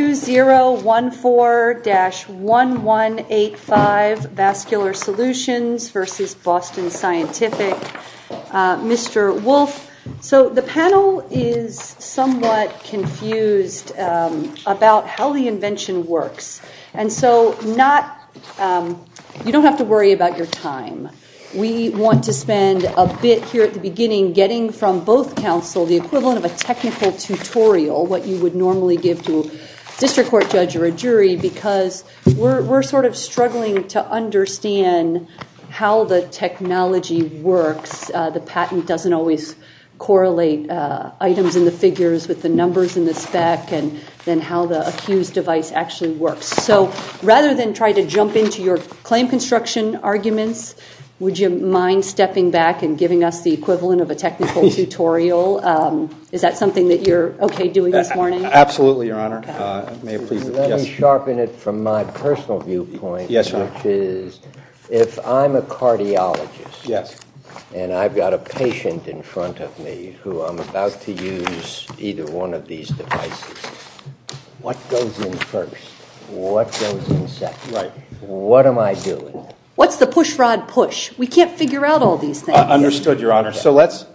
2014-1185, Vascular Solutions v. Boston Scientific, Mr. Wolfe. So the panel is somewhat confused about how the invention works. And so you don't have to worry about your time. We want to spend a bit here at the beginning getting from both counsel the equivalent of a technical tutorial, what you would normally give to a district court judge or a jury, because we're sort of struggling to understand how the technology works. The patent doesn't always correlate items in the figures with the numbers in the spec and how the accused device actually works. So rather than try to jump into your claim construction arguments, would you mind stepping back and giving us the equivalent of a technical tutorial? Is that something that you're OK doing this morning? Absolutely, Your Honor. May I please? Let me sharpen it from my personal viewpoint, which is, if I'm a cardiologist and I've got a patient in front of me who I'm about to use either one of these devices, what goes in first? What goes in second? What am I doing? What's the push-frod push? We can't figure out all these things. Understood, Your Honor. So let's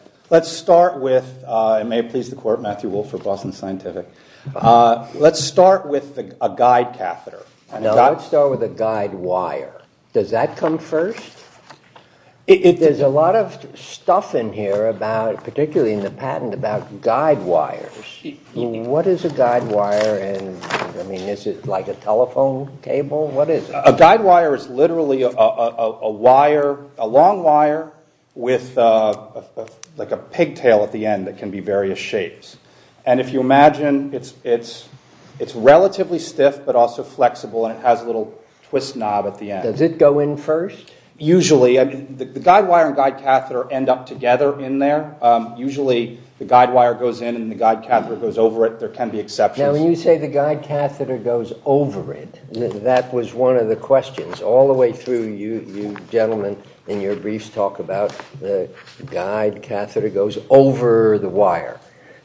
start with, and may it please the court, Matthew Wolfe for Boston Scientific. Let's start with a guide catheter. No, I'd start with a guide wire. Does that come first? There's a lot of stuff in here, particularly in the patent, about guide wires. What is a guide wire? Is it like a telephone cable? What is it? A guide wire is literally a wire, a long wire, with a pigtail at the end that can be various shapes. And if you imagine, it's relatively stiff, but also flexible, and it has a little twist knob at the end. Does it go in first? Usually, the guide wire and guide catheter end up together in there. Usually, the guide wire goes in and the guide catheter goes over it. There can be exceptions. Now, when you say the guide catheter goes over it, that was one of the questions. All the way through, you gentlemen in your briefs talk about the guide catheter goes over the wire.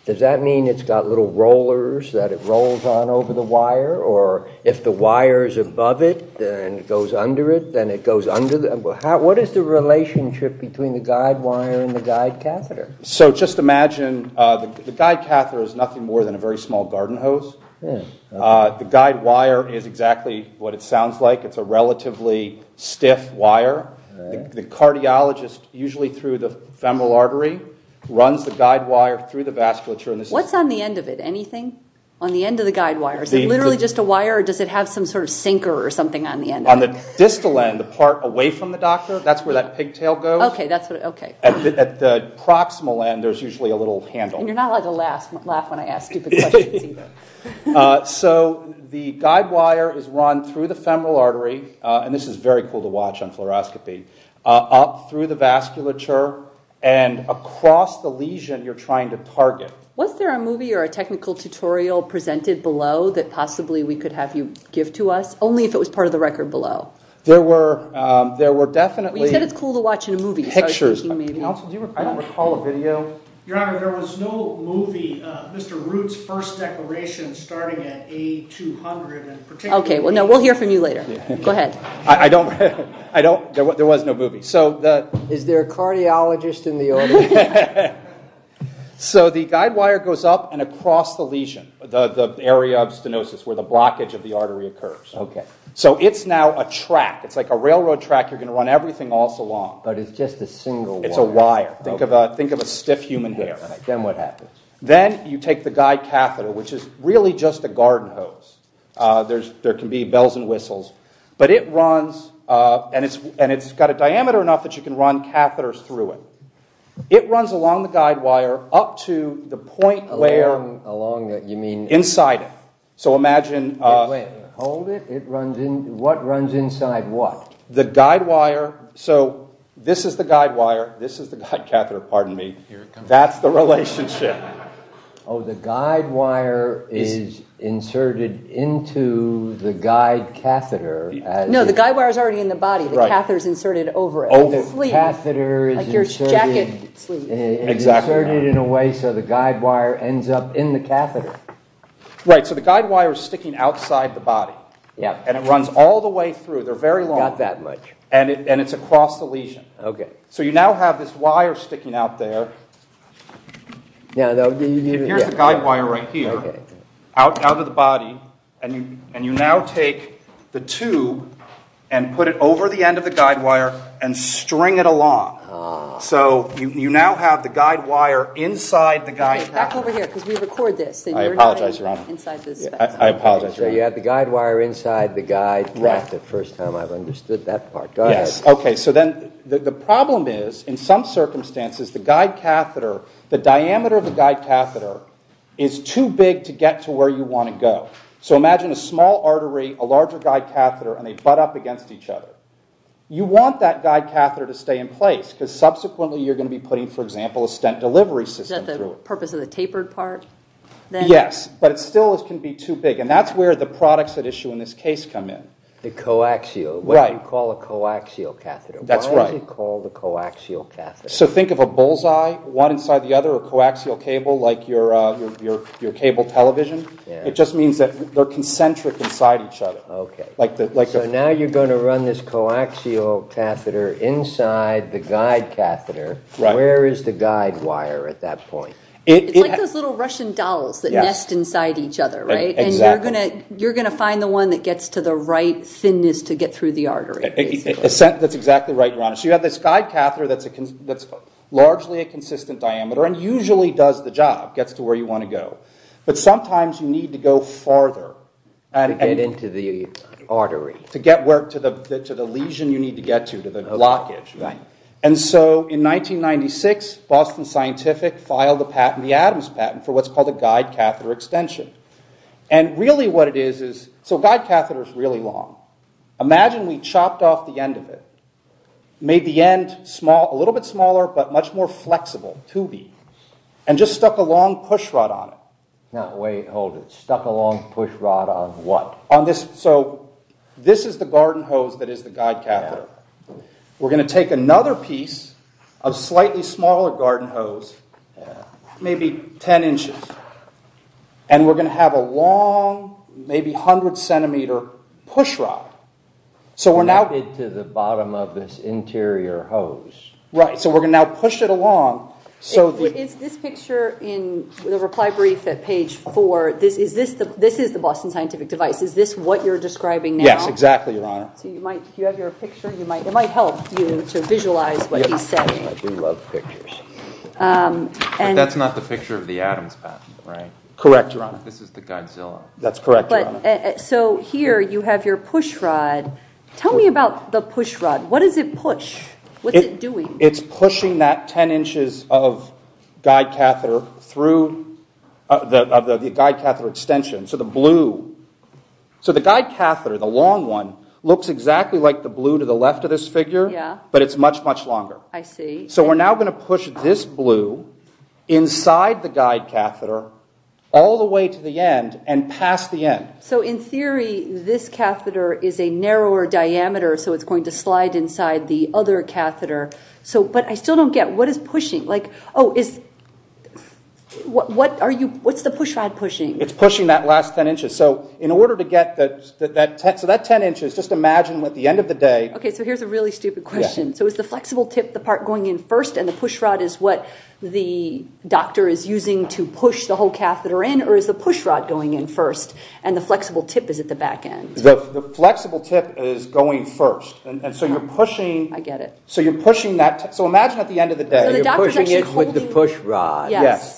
Does that mean it's got little rollers that it rolls on over the wire? Or if the wire is above it and it goes under it, then it goes under the wire? What is the relationship between the guide wire and the guide catheter? So just imagine, the guide catheter is nothing more than a very small garden hose. The guide wire is exactly what it sounds like. It's a relatively stiff wire. The cardiologist, usually through the femoral artery, runs the guide wire through the vasculature. What's on the end of it? Anything? On the end of the guide wire? Is it literally just a wire, or does it have some sort of sinker or something on the end of it? On the distal end, the part away from the doctor, that's where that pigtail goes. OK. OK. At the proximal end, there's usually a little handle. And you're not allowed to laugh when I ask you the question. So the guide wire is run through the femoral artery, and this is very cool to watch on fluoroscopy, up through the vasculature and across the lesion you're trying to target. Was there a movie or a technical tutorial presented below that possibly we could have you give to us, only if it was part of the record below? There were definitely pictures of it. I don't recall a video. Your Honor, there was no movie, Mr. Root's first declaration starting at A200 in particular. OK, well, no. We'll hear from you later. Go ahead. I don't, there was no movie. So is there a cardiologist in the audience? So the guide wire goes up and across the lesion, the area of stenosis where the blockage of the artery occurs. So it's now a track. You're going to run everything all along. But it's just a single wire. Think of a stiff human being. Then what happens? Then you take the guide catheter, which is really just a garden hose. There can be bells and whistles. But it runs, and it's got a diameter enough that you can run catheters through it. It runs along the guide wire up to the point layer inside it. So imagine. Wait, hold it. What runs inside what? The guide wire. So this is the guide wire. This is the guide catheter. Pardon me. That's the relationship. Oh, the guide wire is inserted into the guide catheter. No, the guide wire's already in the body. The catheter's inserted over it. Oh, the catheter is inserted in a way so the guide wire ends up in the catheter. Right, so the guide wire's sticking outside the body. And it runs all the way through. They're very long. Not that much. And it's across the lesion. So you now have this wire sticking out there. Here's the guide wire right here, out of the body. And you now take the tube and put it over the end of the guide wire and string it along. So you now have the guide wire inside the guide catheter. Back over here, because we record this. I apologize, Your Honor. I apologize, Your Honor. So you have the guide wire inside the guide catheter. The first time I've understood that part. Go ahead. OK, so then the problem is, in some circumstances, the guide catheter, the diameter of the guide catheter is too big to get to where you want to go. So imagine a small artery, a larger guide catheter, and they butt up against each other. You want that guide catheter to stay in place. Because subsequently, you're going to be putting, for example, a stent delivery system through it. Is that the purpose of the tapered part? Yes, but it still can be too big. And that's where the products at issue in this case come in. The coaxial, what you call a coaxial catheter. That's right. Why is it called a coaxial catheter? So think of a bullseye, one inside the other, a coaxial cable, like your cable television. It just means that they're concentric inside each other. OK, so now you're going to run this coaxial catheter inside the guide catheter. Where is the guide wire at that point? It's like those little Russian dolls that nest inside each other, right? Exactly. And you're going to find the one that has the right thinness to get through the artery. That's exactly right, your honor. So you have this guide catheter that's largely a consistent diameter, and usually does the job, gets to where you want to go. But sometimes you need to go farther. To get into the artery. To get to the lesion you need to get to, to the blockage. And so in 1996, Boston Scientific filed the patent, the Adams patent, for what's called a guide catheter extension. And really what it is is, so a guide catheter is really long. Imagine we chopped off the end of it, made the end a little bit smaller, but much more flexible, two beads, and just stuck a long push rod on it. No, wait, hold it. Stuck a long push rod on what? So this is the garden hose that is the guide catheter. We're going to take another piece of slightly smaller garden hose, maybe 10 inches. And we're going to have a long, maybe 100 centimeter push rod. So we're now. To the bottom of this interior hose. Right, so we're going to now push it along. Is this picture in the reply brief at page four, this is the Boston Scientific device. Is this what you're describing now? Yes, exactly, your honor. Do you have your picture? It might help you to visualize what he said. I do love pictures. But that's not the picture of the atom spasms, right? Correct, your honor. This is the Godzilla. That's correct, your honor. So here you have your push rod. Tell me about the push rod. What does it push? What's it doing? It's pushing that 10 inches of guide catheter through the guide catheter extension, so the blue. So the guide catheter, the long one, looks exactly like the blue to the left of this figure, but it's much, much longer. So we're now going to push this blue inside the guide catheter all the way to the end and past the end. So in theory, this catheter is a narrower diameter, so it's going to slide inside the other catheter. But I still don't get, what is pushing? What's the push rod pushing? It's pushing that last 10 inches. So in order to get to that 10 inches, just imagine at the end of the day. OK, so here's a really stupid question. So is the flexible tip, the part going in first, and the push rod is what the doctor is using to push the whole catheter in? Or is the push rod going in first, and the flexible tip is at the back end? The flexible tip is going first. And so you're pushing that. So imagine at the end of the day, you're pushing it with the push rod.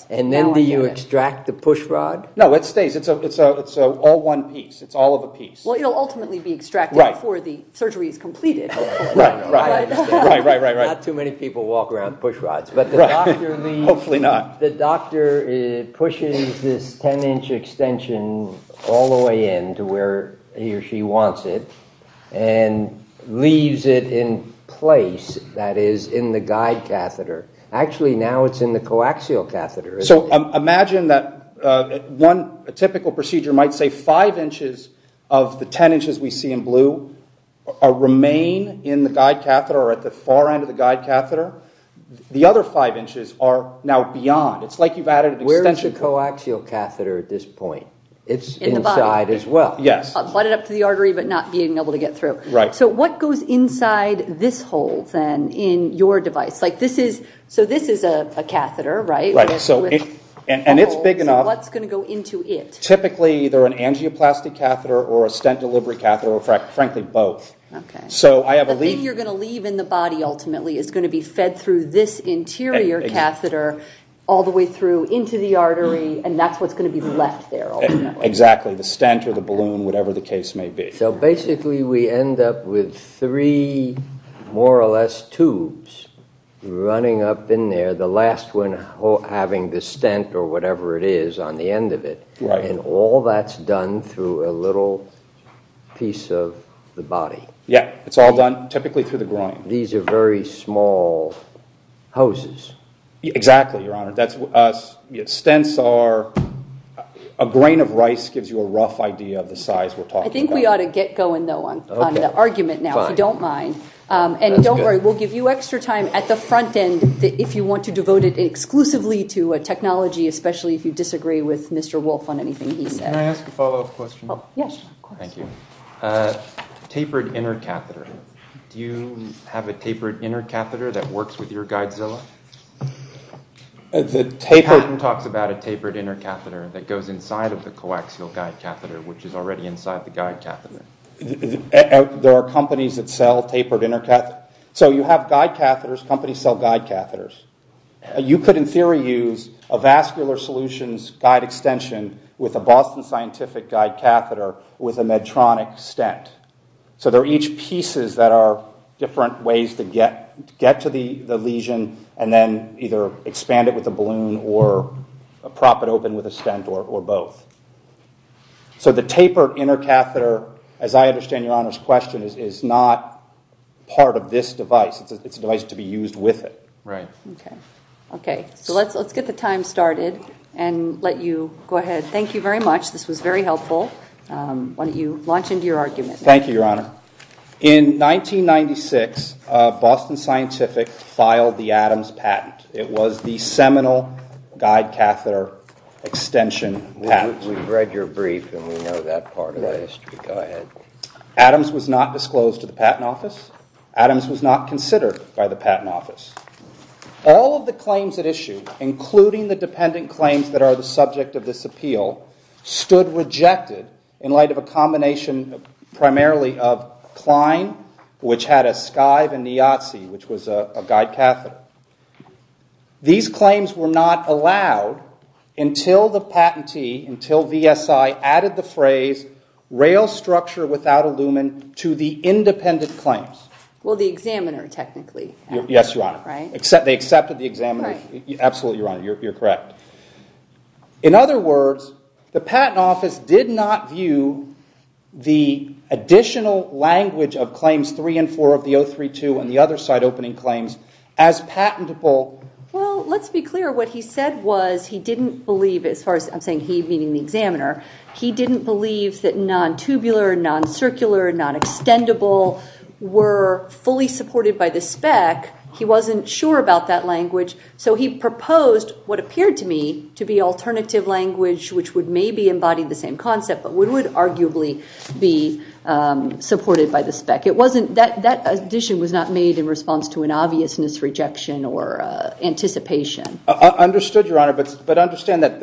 And then do you extract the push rod? No, it's all one piece. It's all of a piece. Well, it'll ultimately be extracted before the surgery is completed. Not too many people walk around with push rods. But the doctor pushes this 10-inch extension all the way in to where he or she wants it, and leaves it in place, that is, in the guide catheter. Actually, now it's in the coaxial catheter. So imagine that a typical procedure might say 5 inches of the 10 inches we see in blue remain in the guide catheter, or at the far end of the guide catheter. The other 5 inches are now beyond. It's like you've added an extension. Where is the coaxial catheter at this point? It's inside as well. Yes. Butted up to the artery, but not being able to get through. So what goes inside this hole, then, in your device? So this is a catheter, right? Right. And it's big enough. So what's going to go into it? Typically, either an angioplasty catheter, or a stent-delivery catheter, or frankly, both. So I have a lead. The lead you're going to leave in the body, ultimately, is going to be fed through this interior catheter, all the way through into the artery, and that's what's going to be left there. Exactly. The stent, or the balloon, whatever the case may be. So basically, we end up with three, more or less, tubes running up in there, the last one having the stent, or whatever it is, on the end of it. And all that's done through a little piece of the body. Yeah, it's all done, typically, through the groin. These are very small hoses. Exactly, Your Honor. Stents are, a grain of rice gives you a rough idea of the size we're talking about. I think we ought to get going, though, on the argument now, if you don't mind. And don't worry, we'll give you extra time at the front end, if you want to devote it exclusively to a technology, especially if you disagree with Mr. Wolf on anything he said. Can I ask a follow-up question? Yes. Thank you. Tapered inner catheter. Do you have a tapered inner catheter that works with your guidezilla? The taper talks about a tapered inner catheter that goes inside of the coaxial guide catheter, which is already inside the guide catheter. There are companies that sell tapered inner catheters. So you have guide catheters, companies sell guide catheters. You could, in theory, use a vascular solutions guide extension with a Boston Scientific guide catheter with a Medtronic stent. So they're each pieces that are different ways to get to the lesion, and then either expand it with a balloon, or prop it open with a stent, or both. So the tapered inner catheter, as I understand Your Honor's question, is not part of this device. It's a device to be used with it. Right. OK. So let's get the time started, and let you go ahead. Thank you very much. This was very helpful. Why don't you launch into your argument. Thank you, Your Honor. In 1996, Boston Scientific filed the Adams patent. It was the seminal guide catheter extension patent. We've read your brief, and we know that part of the history. Go ahead. Adams was not disclosed to the Patent Office. Adams was not considered by the Patent Office. All of the claims at issue, including the dependent claims that are the subject of this appeal, stood rejected in light of a combination primarily of Klein, which had a Skive, and Niazi, which was a guide catheter. These claims were not allowed until the patentee, until VSI, added the phrase rail structure without a lumen to the independent claims. Well, the examiner, technically. Yes, Your Honor. They accepted the examiner. Absolutely, Your Honor. You're correct. In other words, the Patent Office did not view the additional language of claims three and four of the 032 and the other site opening claims as patentable. Well, let's be clear. What he said was he didn't believe, as far as I'm saying he being the examiner, he didn't believe that non-tubular, non-circular, non-extendable were fully supported by the spec. He wasn't sure about that language. So he proposed what appeared to me to be alternative language, which would maybe embody the same concept, but would arguably be supported by the spec. It wasn't that addition was not made in response to an obvious misrejection or anticipation. Understood, Your Honor. But understand that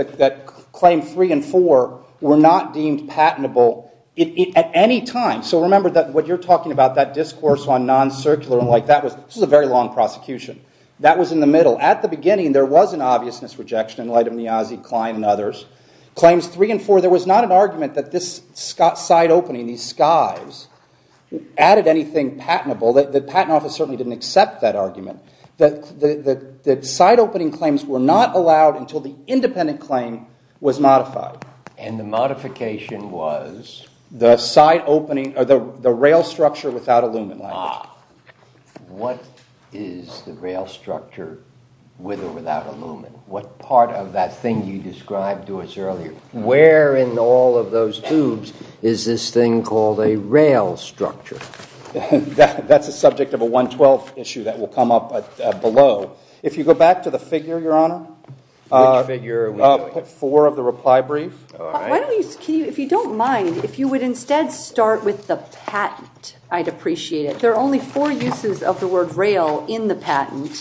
claims three and four were not deemed patentable. At any time, so remember that what you're talking about, that discourse on non-circular and like that was a very long prosecution. That was in the middle. At the beginning, there was an obvious misrejection in light of Niazi, Klein, and others. Claims three and four, there was not an argument that this site opening, these skies, added anything patentable. The Patent Office certainly didn't accept that argument. That the site opening claims were not allowed until the independent claim was modified. And the modification was? The site opening, or the rail structure without aluminum. What is the rail structure with or without aluminum? What part of that thing you described to us earlier? Where in all of those tubes is this thing called a rail structure? That's a subject of a 112th issue If you go back to the figure, Your Honor, Figure four of the reply brief. If you don't mind, if you would instead start with the patent, I'd appreciate it. There are only four uses of the word rail in the patent.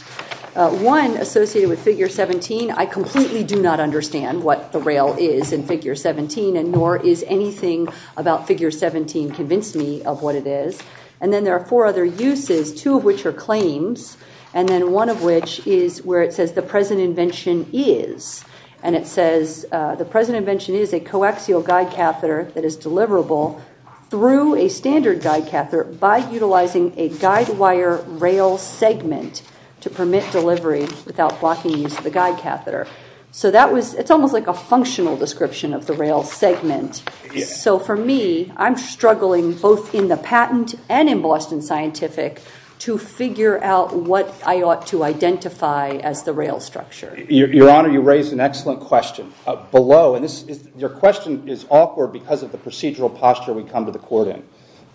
One associated with figure 17, I completely do not understand what the rail is in figure 17, and nor is anything about figure 17 convinced me of what it is. And then there are four other uses, two of which are claims, and then one of which is where it says the present invention is. And it says, the present invention is a coaxial guide catheter that is deliverable through a standard guide catheter by utilizing a guide wire rail segment to permit delivery without blocking the guide catheter. So that was, it's almost like a functional description of the rail segment. So for me, I'm struggling both in the patent and in Boston Scientific to figure out what I ought to identify as the rail structure. Your Honor, you raise an excellent question. Below, and your question is awkward because of the procedural posture we come to the court in.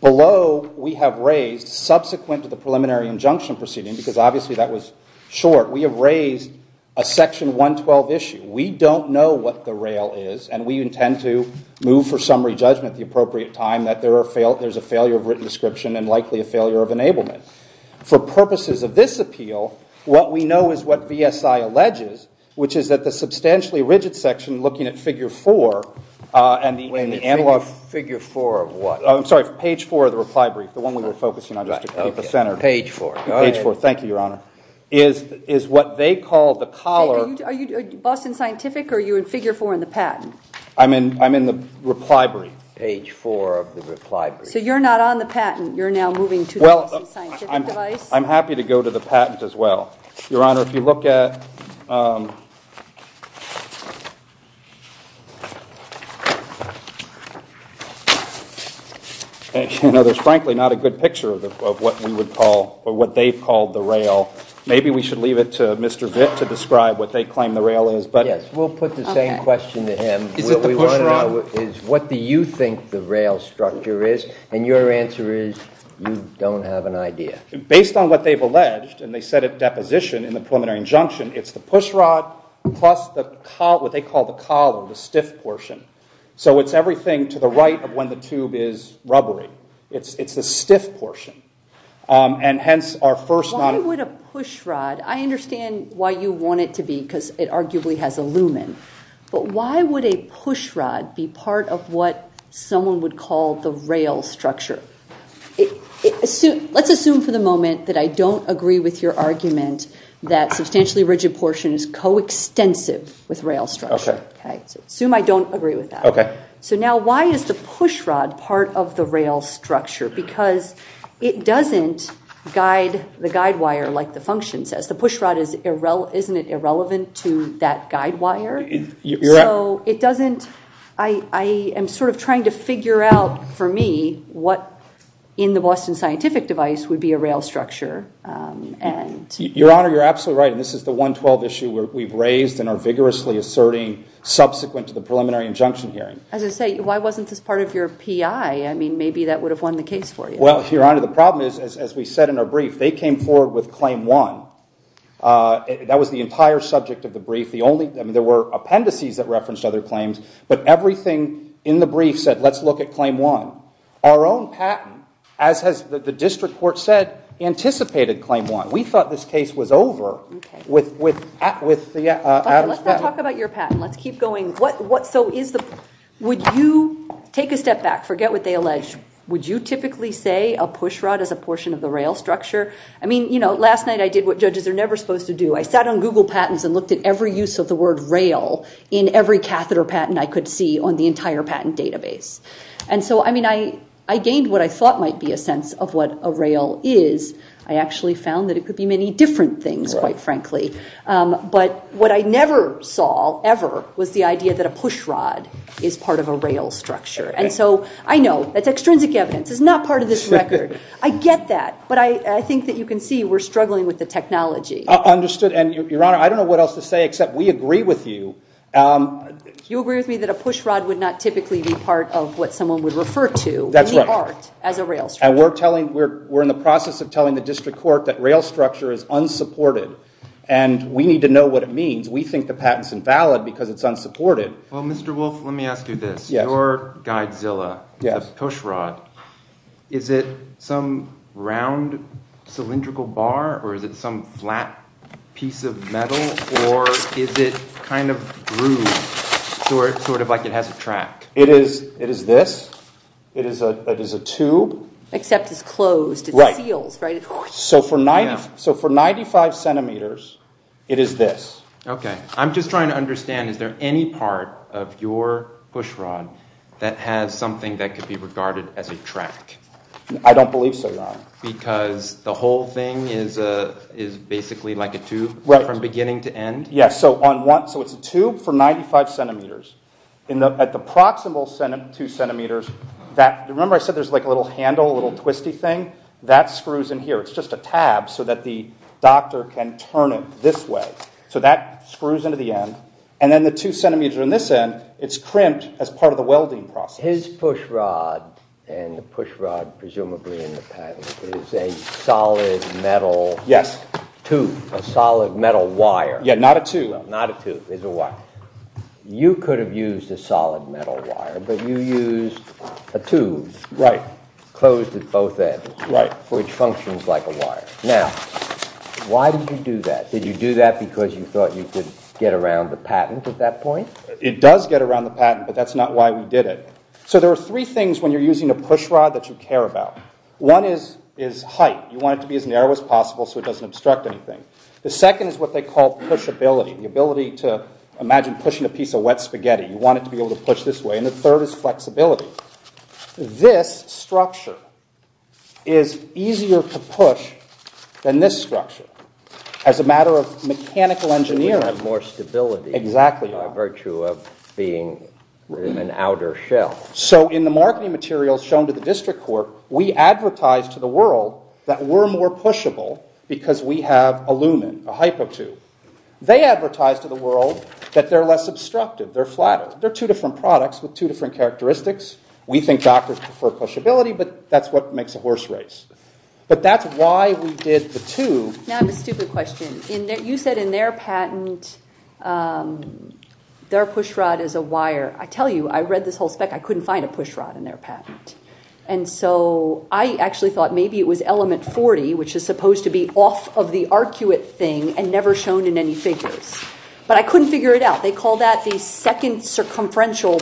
Below, we have raised, subsequent to the preliminary injunction proceeding, because obviously that was short, we have raised a section 112 issue. We don't know what the rail is, and we intend to move for summary judgment at the appropriate time that there is a failure of written description and likely a failure of enablement. For purposes of this appeal, what we know is what BSI alleges, which is that the substantially rigid section looking at figure four, and the analog figure four of what? I'm sorry, page four of the reply brief, the one we were focusing on just to put the center. Page four. Page four, thank you, Your Honor. Is what they call the collar. Are you Boston Scientific, or are you in figure four in the patent? I'm in the reply brief. Page four of the reply brief. So you're not on the patent, you're now moving to the Boston Scientific, right? I'm happy to go to the patent as well. Your Honor, if you look at, there's frankly not a good picture of what we would call, or what they've called the rail. Maybe we should leave it to Mr. Vick to describe what they claim the rail is, but yes. We'll put the same question to him. What do you think the rail structure is? And your answer is, you don't have an idea. Based on what they've alleged, and they said at deposition in the preliminary injunction, it's the pushrod plus what they call the collar, the stiff portion. So it's everything to the right of when the cube is rubbery. It's the stiff portion. And hence, our first not a pushrod. I understand why you want it to be, because it arguably has a lumen. But why would a pushrod be part of what someone would call the rail structure? Let's assume for the moment that I don't agree with your argument that substantially rigid portion is coextensive with rail structure. Assume I don't agree with that. So now, why is the pushrod part of the rail structure? Because it doesn't guide the guidewire, like the function says. The pushrod, isn't it irrelevant to that guidewire? You're right. I am sort of trying to figure out, for me, what in the Boston Scientific Device would be a rail structure. Your Honor, you're absolutely right. And this is the 112 issue we've raised and are vigorously asserting subsequent to the preliminary injunction hearing. I was going to say, why wasn't this part of your PI? I mean, maybe that would have won the case for you. Well, Your Honor, the problem is, as we said in our brief, they came forward with claim one. That was the entire subject of the brief. There were appendices that referenced other claims. But everything in the brief said, let's look at claim one. Our own patent, as the district court said, anticipated claim one. We thought this case was over with Adam's patent. Let's not talk about your patent. Let's keep going. Would you take a step back? Forget what they allege. Would you typically say a pushrod is a portion of the rail structure? I mean, last night I did what judges are never supposed to do. I sat on Google Patents and looked at every use of the word rail in every catheter patent I could see on the entire patent database. And so, I mean, I gained what I thought might be a sense of what a rail is. I actually found that it could be many different things, quite frankly. But what I never saw, ever, was the idea that a pushrod is part of a rail structure. And so, I know, that's extrinsic evidence. It's not part of this record. I get that. But I think that you can see we're struggling with the technology. Understood. And, Your Honor, I don't know what else to say, except we agree with you. Do you agree with me that a pushrod would not typically be part of what someone would refer to as a rail structure? And we're in the process of telling the district court that rail structure is unsupported. And we need to know what it means. We think the patent's invalid because it's unsupported. Well, Mr. Wolfe, let me ask you this. Your Godzilla, the pushrod, is it some round cylindrical bar? Or is it some flat piece of metal? Or is it kind of grooved, sort of like it has a track? It is this. It is a tube. Except it's closed. It's sealed, right? So for 95 centimeters, it is this. OK. I'm just trying to understand, is there any part of your pushrod that has something that could be regarded as a track? I don't believe so, Your Honor. Because the whole thing is basically like a tube from beginning to end? Yes. So it's a tube for 95 centimeters. At the proximal two centimeters, remember I said there's a little handle, a little twisty thing? That screws in here. It's just a tab so that the doctor can turn it this way. So that screws into the end. And then the two centimeters on this end, it's crimped as part of the welding process. His pushrod, and the pushrod presumably in the patent, is a solid metal tube, a solid metal wire. Yeah, not a tube. Not a tube. It's a wire. You could have used a solid metal wire, but you used a tube closed at both ends, which functions like a wire. Now, why did you do that? Did you do that because you thought you could get around the patent at that point? It does get around the patent, but that's not why we did it. So there are three things when you're using a pushrod that you care about. One is height. You want it to be as narrow as possible so it doesn't obstruct anything. The second is what they call pushability, the ability to imagine pushing a piece of wet spaghetti. You want it to be able to push this way. And the third is flexibility. This structure is easier to push than this structure as a matter of mechanical engineering. More stability. Exactly. Virtue of being in an outer shell. So in the marketing materials shown to the district court, we advertised to the world that we're more pushable because we have aluminum, the hypo tube. They advertised to the world that they're less obstructive. They're flatter. They're two different products with two different characteristics. We think doctors prefer pushability, but that's what makes the horse race. But that's why we did the tube. Now, I have a stupid question. You said in their patent, their pushrod is a wire. I tell you, I read this whole spec. I couldn't find a pushrod in their patent. And so I actually thought maybe it was element 40, which is supposed to be off of the arcuate thing and never shown in any figure. But I couldn't figure it out. They call that the second circumferential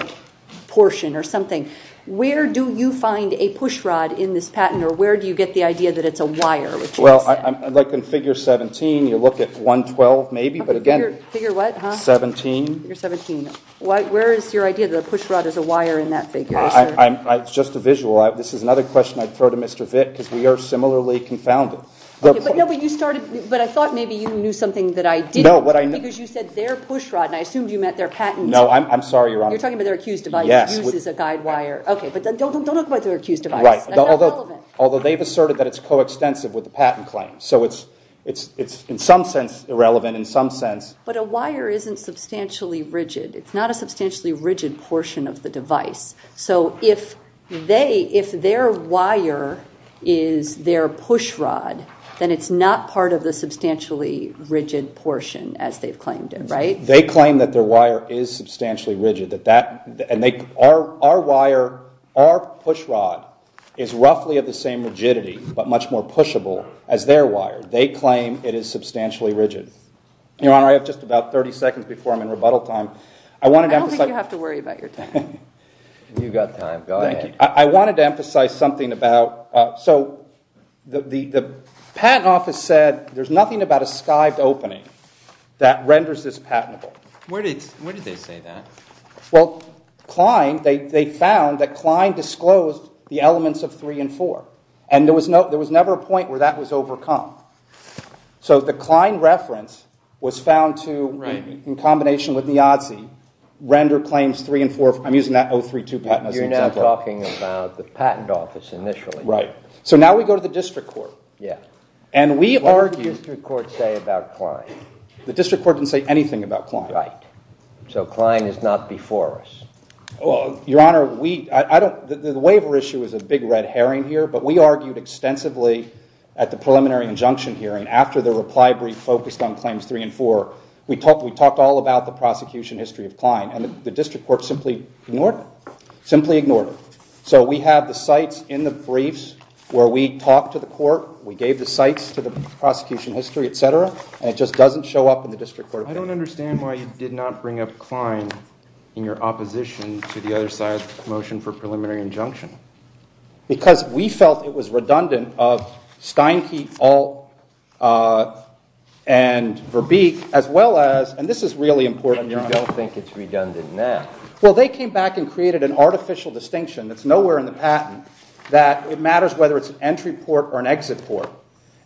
portion or something. Where do you find a pushrod in this patent, or where do you get the idea that it's a wire? Well, like in figure 17, you look at 112 maybe. But again, 17. Where is your idea that a pushrod is a wire in that figure? Just a visual. This is another question I'd throw to Mr. Vick because we are similarly confounded. But I thought maybe you knew something that I didn't. Because you said their pushrod, and I assume you meant their patent. No, I'm sorry, Your Honor. You're talking about their acute device used as a guide wire. OK, but don't look at their acute device. Although they've asserted that it's so extensive with the patent claim. So it's in some sense irrelevant, in some sense. But a wire isn't substantially rigid. It's not a substantially rigid portion of the device. So if their wire is their pushrod, then it's not part of the substantially rigid portion as they've claimed it, right? They claim that their wire is substantially rigid. Our wire, our pushrod, is roughly of the same rigidity, but much more pushable, as their wire. They claim it is substantially rigid. Your Honor, I have just about 30 seconds before I'm in rebuttal time. I wanted to emphasize. I don't think you have to worry about your time. You've got time, go ahead. I wanted to emphasize something about, so the patent office said there's nothing about a skived opening that renders this patentable. Where did they say that? Well, Klein, they found that Klein disclosed the elements of three and four. And there was never a point where that was overcome. So the Klein reference was found to, in combination with Niazi, render claims three and four. I'm using that 032 patent as an example. You're now talking about the patent office, initially. Right. So now we go to the district court. Yes. And we argue. What did the district court say about Klein? The district court didn't say anything about Klein. So Klein is not before us. Your Honor, the waiver issue is a big red herring here. But we argued extensively at the preliminary injunction hearing after the reply brief focused on claims three and four. We talked all about the prosecution history of Klein. And the district court simply ignored it. Simply ignored it. So we have the sites in the briefs where we talked to the court. We gave the sites to the prosecution history, et cetera. And it just doesn't show up in the district court. I don't understand why you did not bring up Klein in your opposition to the other side's motion for preliminary injunction. Because we felt it was redundant of Steinke, Ault, and Verbeek, as well as, and this is really important, Your Honor, I don't think it's redundant there. Well, they came back and created an artificial distinction that's nowhere in the patent that it matters whether it's an entry court or an exit court.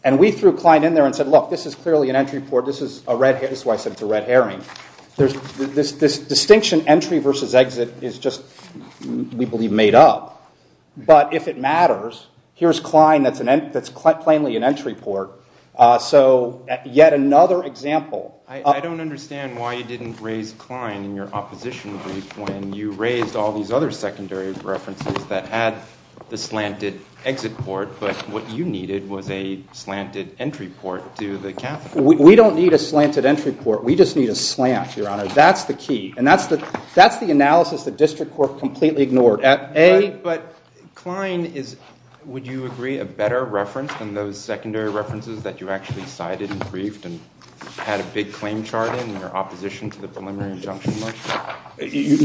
And we threw Klein in there and said, look, this is clearly an entry court. This is a red herring. That's why I said it's a red herring. There's this distinction, entry versus exit, is just, we believe, made up. But if it matters, here's Klein that's plainly an entry court. So yet another example. I don't understand why you didn't raise Klein in your opposition brief when you raised all these other secondary references that had the slanted exit court, but what you needed was a slanted entry court to the capital. We don't need a slanted entry court. We just need a slant, Your Honor. That's the key. And that's the analysis the district court completely ignored. But Klein is, would you agree, a better reference than those secondary references that you actually cited in brief and had a big claim charted in your opposition to the preliminary injunction?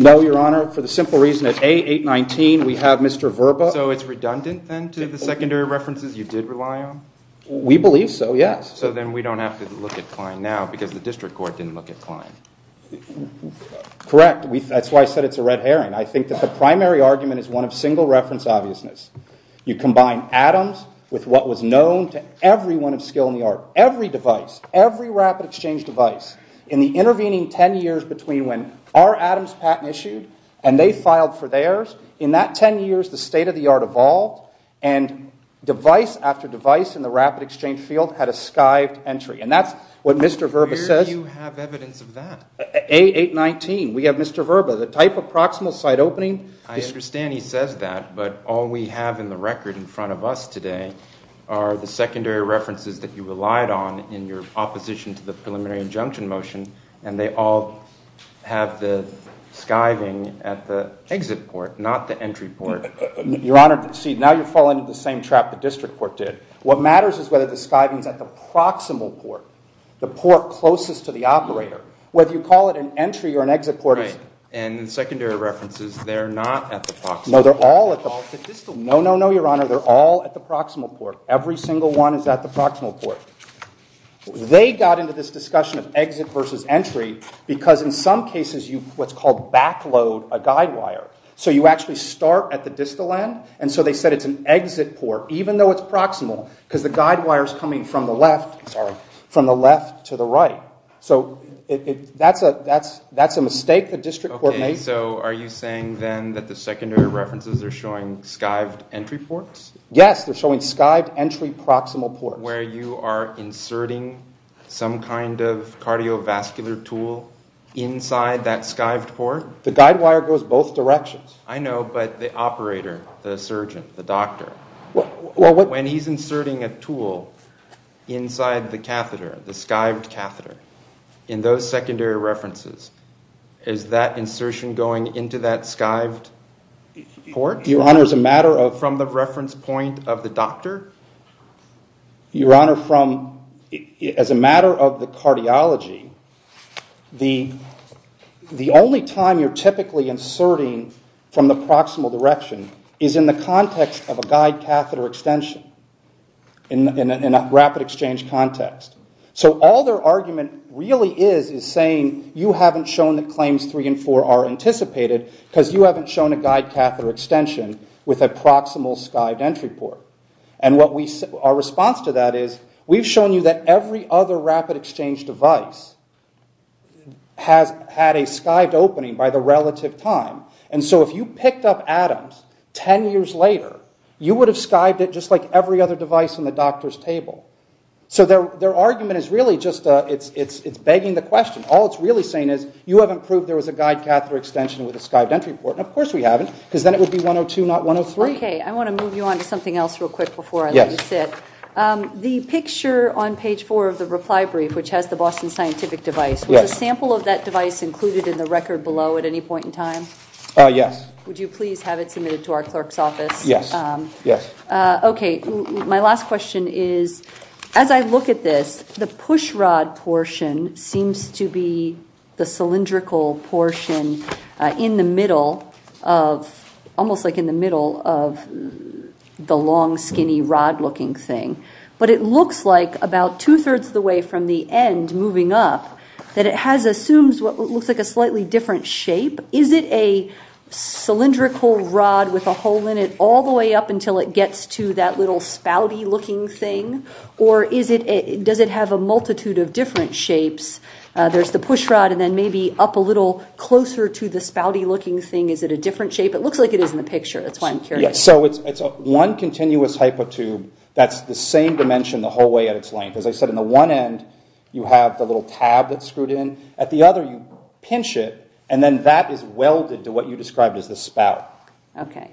No, Your Honor. For the simple reason that A819, we have Mr. Verba. So it's redundant, then, to the secondary references you did rely on? We believe so, yes. So then we don't have to look at Klein now because the district court didn't look at Klein. Correct. That's why I said it's a red herring. I think that the primary argument is one of single reference obviousness. You combine Adams with what was known to everyone of skill in the art, every device, every rapid exchange device. In the intervening 10 years between when our Adams patent issued and they filed for theirs, in that 10 years, the state of the art evolved. And device after device in the rapid exchange field had a skived entry. And that's what Mr. Verba says. Where do you have evidence of that? A819, we have Mr. Verba. The type of proximal site opening? I understand he says that. But all we have in the record in front of us today are the secondary references that you relied on in your opposition to the preliminary injunction motion. And they all have the skiving at the exit port, not the entry port. Your Honor, see, now you're falling into the same trap the district court did. What matters is whether the skiving's at the proximal port, the port closest to the operator. Whether you call it an entry or an exit port. And in secondary references, they're not at the proximal. No, they're all at the proximal. No, no, no, Your Honor. They're all at the proximal port. Every single one is at the proximal port. They got into this discussion of exit versus entry because in some cases, you what's called back load a guide wire. So you actually start at the distal end. And so they said it's an exit port, even though it's proximal, because the guide wire's coming from the left to the right. So that's a mistake the district court made. So are you saying then that the secondary references are showing skived entry ports? Yes, they're showing skived entry proximal ports. Where you are inserting some kind of cardiovascular tool inside that skived port? The guide wire goes both directions. I know, but the operator, the surgeon, the doctor, when he's inserting a tool inside the catheter, the skived catheter, in those secondary references, is that insertion going into that skived port? Your Honor, as a matter of the reference point of the doctor? Your Honor, as a matter of the cardiology, the only time you're typically inserting from the proximal direction is in the context of a guide exchange context. So all their argument really is saying you haven't shown that claims three and four are anticipated, because you haven't shown a guide catheter extension with a proximal skived entry port. And our response to that is, we've shown you that every other rapid exchange device has had a skived opening by the relative time. And so if you picked up Adams 10 years later, you would have skived it just like every other device in the doctor's table. So their argument is really just begging the question. All it's really saying is, you haven't proved there was a guide catheter extension with a skived entry port. And of course we haven't, because then it would be 102, not 103. OK, I want to move you on to something else real quick before I let you sit. The picture on page four of the reply brief, which has the Boston Scientific device, was a sample of that device included in the record below at any point in time? Yes. Would you please have it submitted to our clerk's office? Yes. Yes. OK, my last question is, as I look at this, the push rod portion seems to be the cylindrical portion in the middle of, almost like in the middle of, the long skinny rod looking thing. But it looks like about 2 3rds of the way from the end moving up, that it has assumed what looks like a slightly different shape. Is it a cylindrical rod with a hole in it all the way up until it gets to that little spouty looking thing? Or does it have a multitude of different shapes? There's the push rod, and then maybe up a little closer to the spouty looking thing. Is it a different shape? It looks like it is in the picture, the planetary. So it's one continuous type of tube that's the same dimension the whole way at its length. As I said, on the one end, you have the little tab that's screwed in. At the other, you pinch it, and then that is welded to what you described as the spout. OK.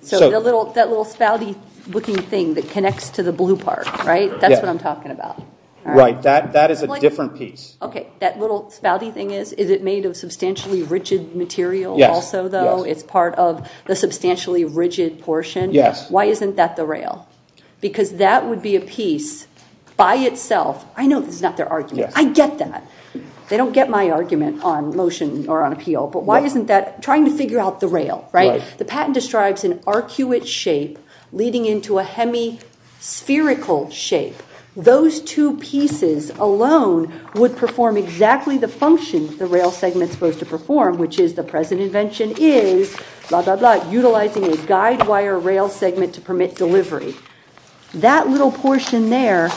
So that little spouty looking thing that connects to the blue part, right? That's what I'm talking about. Right. That is a different piece. OK. That little spouty thing, is it made of substantially rigid material also, though? It's part of the substantially rigid portion? Yes. Why isn't that the rail? Because that would be a piece by itself. I know it's not their argument. I get that. They don't get my argument on motion or on appeal. But why isn't that trying to figure out the rail, right? The patent describes an arcuate shape leading into a hemispherical shape. Those two pieces alone would perform exactly the functions the rail segment's supposed to perform, which is the present invention is, blah, blah, blah, utilizing a guide wire rail segment to permit delivery. That little portion there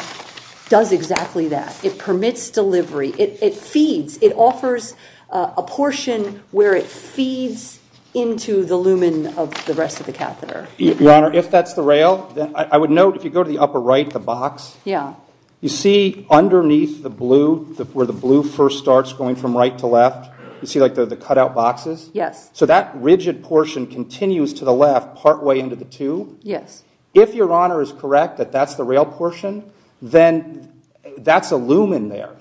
does exactly that. It permits delivery. It feeds. It offers a portion where it feeds into the lumen of the rest of the catheter. Your Honor, if that's the rail, I would note if you go to the upper right, the box, you see underneath the blue, where the blue first starts going from right to left, you see the cutout boxes? Yes. So that rigid portion continues to the left partway into the two? Yes. If Your Honor is correct that that's the rail portion, then that's a lumen there.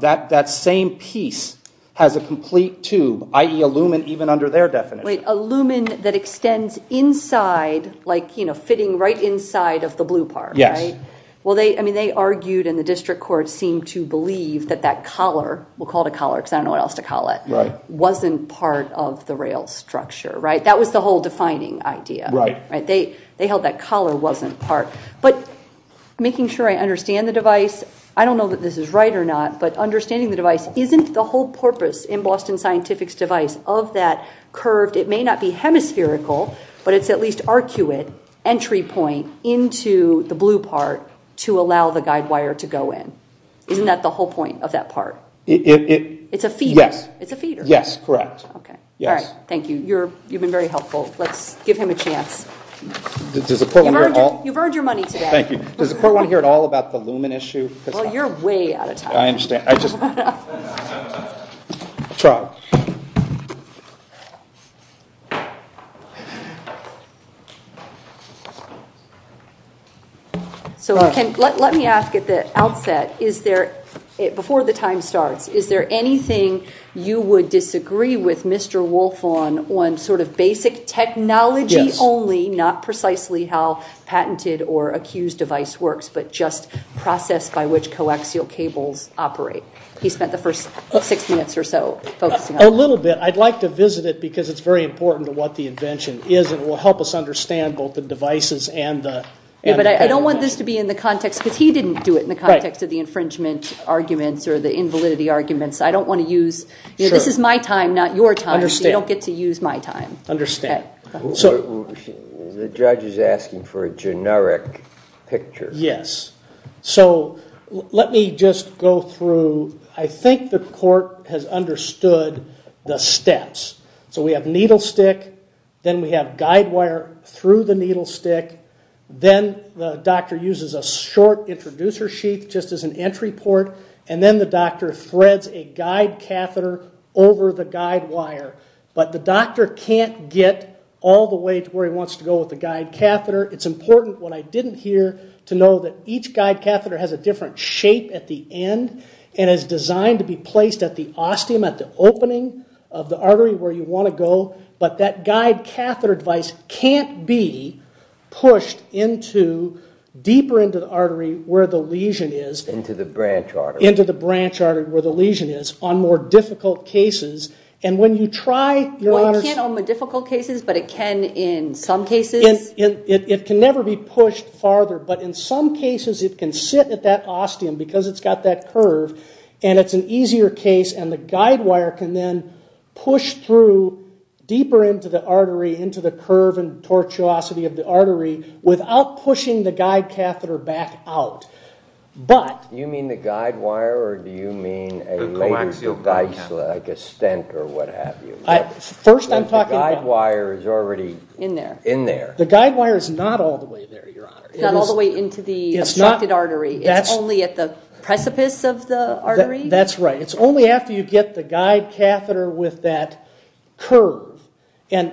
That same piece has a complete tube, i.e. a lumen even under their definition. A lumen that extends inside, like fitting right inside of the blue part, right? Yes. Well, they argued and the district court seemed to believe that that collar, we'll call it a collar because I don't know what else to call it, wasn't part of the rail structure, right? That was the whole defining idea. They held that collar wasn't part. But making sure I understand the device, I don't know that this is right or not, but understanding the device, isn't the whole purpose in Boston Scientific's device of that curved, it may not be hemispherical, but it's at least arcuate, entry point into the blue part to allow the guide wire to go in? Isn't that the whole point of that part? It's a feeder. It's a feeder. Yes, correct. OK. All right. Thank you. You've been very helpful. Let's give him a chance. Does the court want to hear all? You've earned your money today. Thank you. Does the court want to hear at all about the lumen issue? Well, you're way out of time. I understand. I just. Charles. Let me ask at the outset, before the time starts, is there anything you would disagree with Mr. Wolff on, on sort of basic technology only, not precisely how patented or accused device works, but just process by which coaxial cables operate? He spent the first six minutes or so focusing on that. A little bit. I'd like to visit it, because it's very important to what the invention is, and it will help us understand both the devices and the. Yeah, but I don't want this to be in the context, because he didn't do it in the context of the infringement arguments or the invalidity arguments. I don't want to use, this is my time, not your time. You don't get to use my time. Understand. So the judge is asking for a generic picture. Yes. So let me just go through, I think the court has understood the steps. So we have needle stick, then we have guide wire through the needle stick, then the doctor uses a short introducer sheet just as an entry port, and then the doctor threads a guide catheter over the guide wire. But the doctor can't get all the way to where he wants to go with the guide catheter. It's important, what I didn't hear, to know that each guide catheter has a different shape at the end and is designed to be placed at the ostium, at the opening of the artery where you want to go. But that guide catheter device can't be pushed deeper into the artery where the lesion is. Into the branch artery. Into the branch artery where the lesion is on more difficult cases. And when you try your... Well, it can't on the difficult cases, but it can in some cases. It can never be pushed farther, but in some cases it can sit at that ostium because it's got that curve, and it's an easier case, and the guide wire can then push through deeper into the artery, into the curve and tortuosity of the artery, without pushing the guide catheter back out. But... Do you mean the guide wire, or do you mean a... Like a stent or what have you? First I'm talking... The guide wire is already... In there. In there. The guide wire is not all the way there, Your Honor. It's not all the way into the socket artery. It's only at the precipice of the artery? That's right. It's only after you get the guide catheter with that curve. And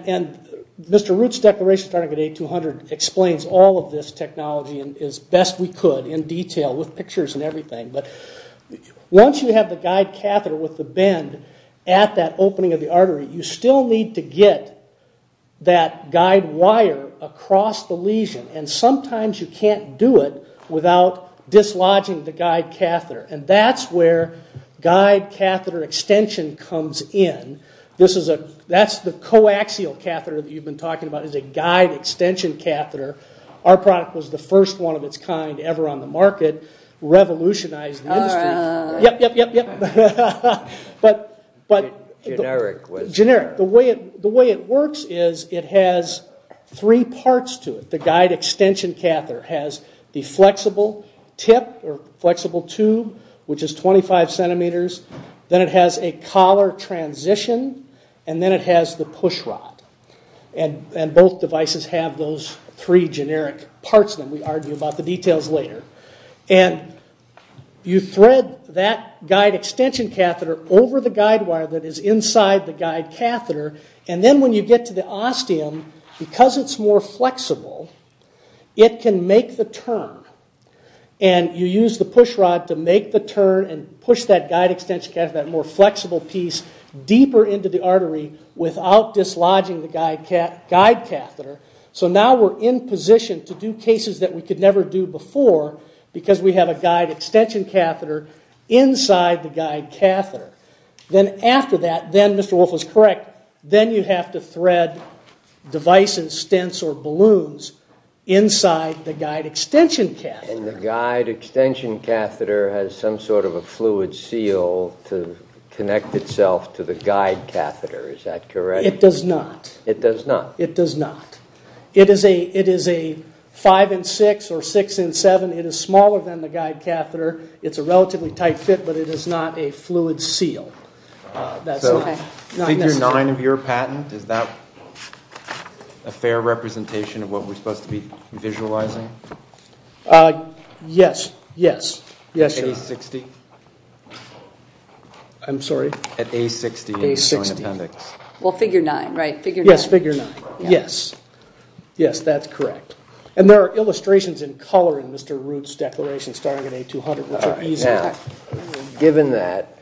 Mr. Root's Declaration of Connecticut 8200 explains all of this technology as best we could in detail with pictures and everything. Once you have the guide catheter with the bend at that opening of the artery, you still need to get that guide wire across the lesion. And sometimes you can't do it without dislodging the guide catheter. And that's where guide catheter extension comes in. This is a... That's the coaxial catheter that you've been talking about, is a guide extension catheter. Our product was the first one of its kind ever on the market. It revolutionized the industry. All right. Yep, yep, yep, yep. But... Generic. Generic. The way it works is it has three parts to it. The guide extension catheter has the flexible tip or flexible tube, which is 25 centimeters. Then it has a collar transition. And then it has the pushrod. And both devices have those three generic parts when we argue about the details later. And you thread that guide extension catheter over the guide wire that is inside the guide catheter. And then when you get to the ostium, because it's more flexible, it can make the turn. And you use the pushrod to make the turn and push that guide extension catheter, that more flexible piece, deeper into the artery without dislodging the guide catheter. So now we're in position to do cases that we could never do before because we have a guide extension catheter inside the guide catheter. Then after that, then Mr. Wolfe is correct, then you have to thread device and stents or balloons inside the guide extension catheter. And the guide extension catheter has some sort of a fluid seal to connect itself to the guide catheter. Is that correct? It does not. It does not. It is a five and six or six and seven. It is smaller than the guide catheter. It's a relatively tight fit, but it is not a fluid seal. So, figure nine of your patent, is that a fair representation of what we're supposed to be visualizing? Yes, yes, yes, sir. At age 60? I'm sorry? At age 60. At age 60. Well, figure nine, right? Figure nine. Yes, figure nine. Yes, yes, that's correct. And there are illustrations in color in Mr. Root's declaration starting at age 200. Now, given that.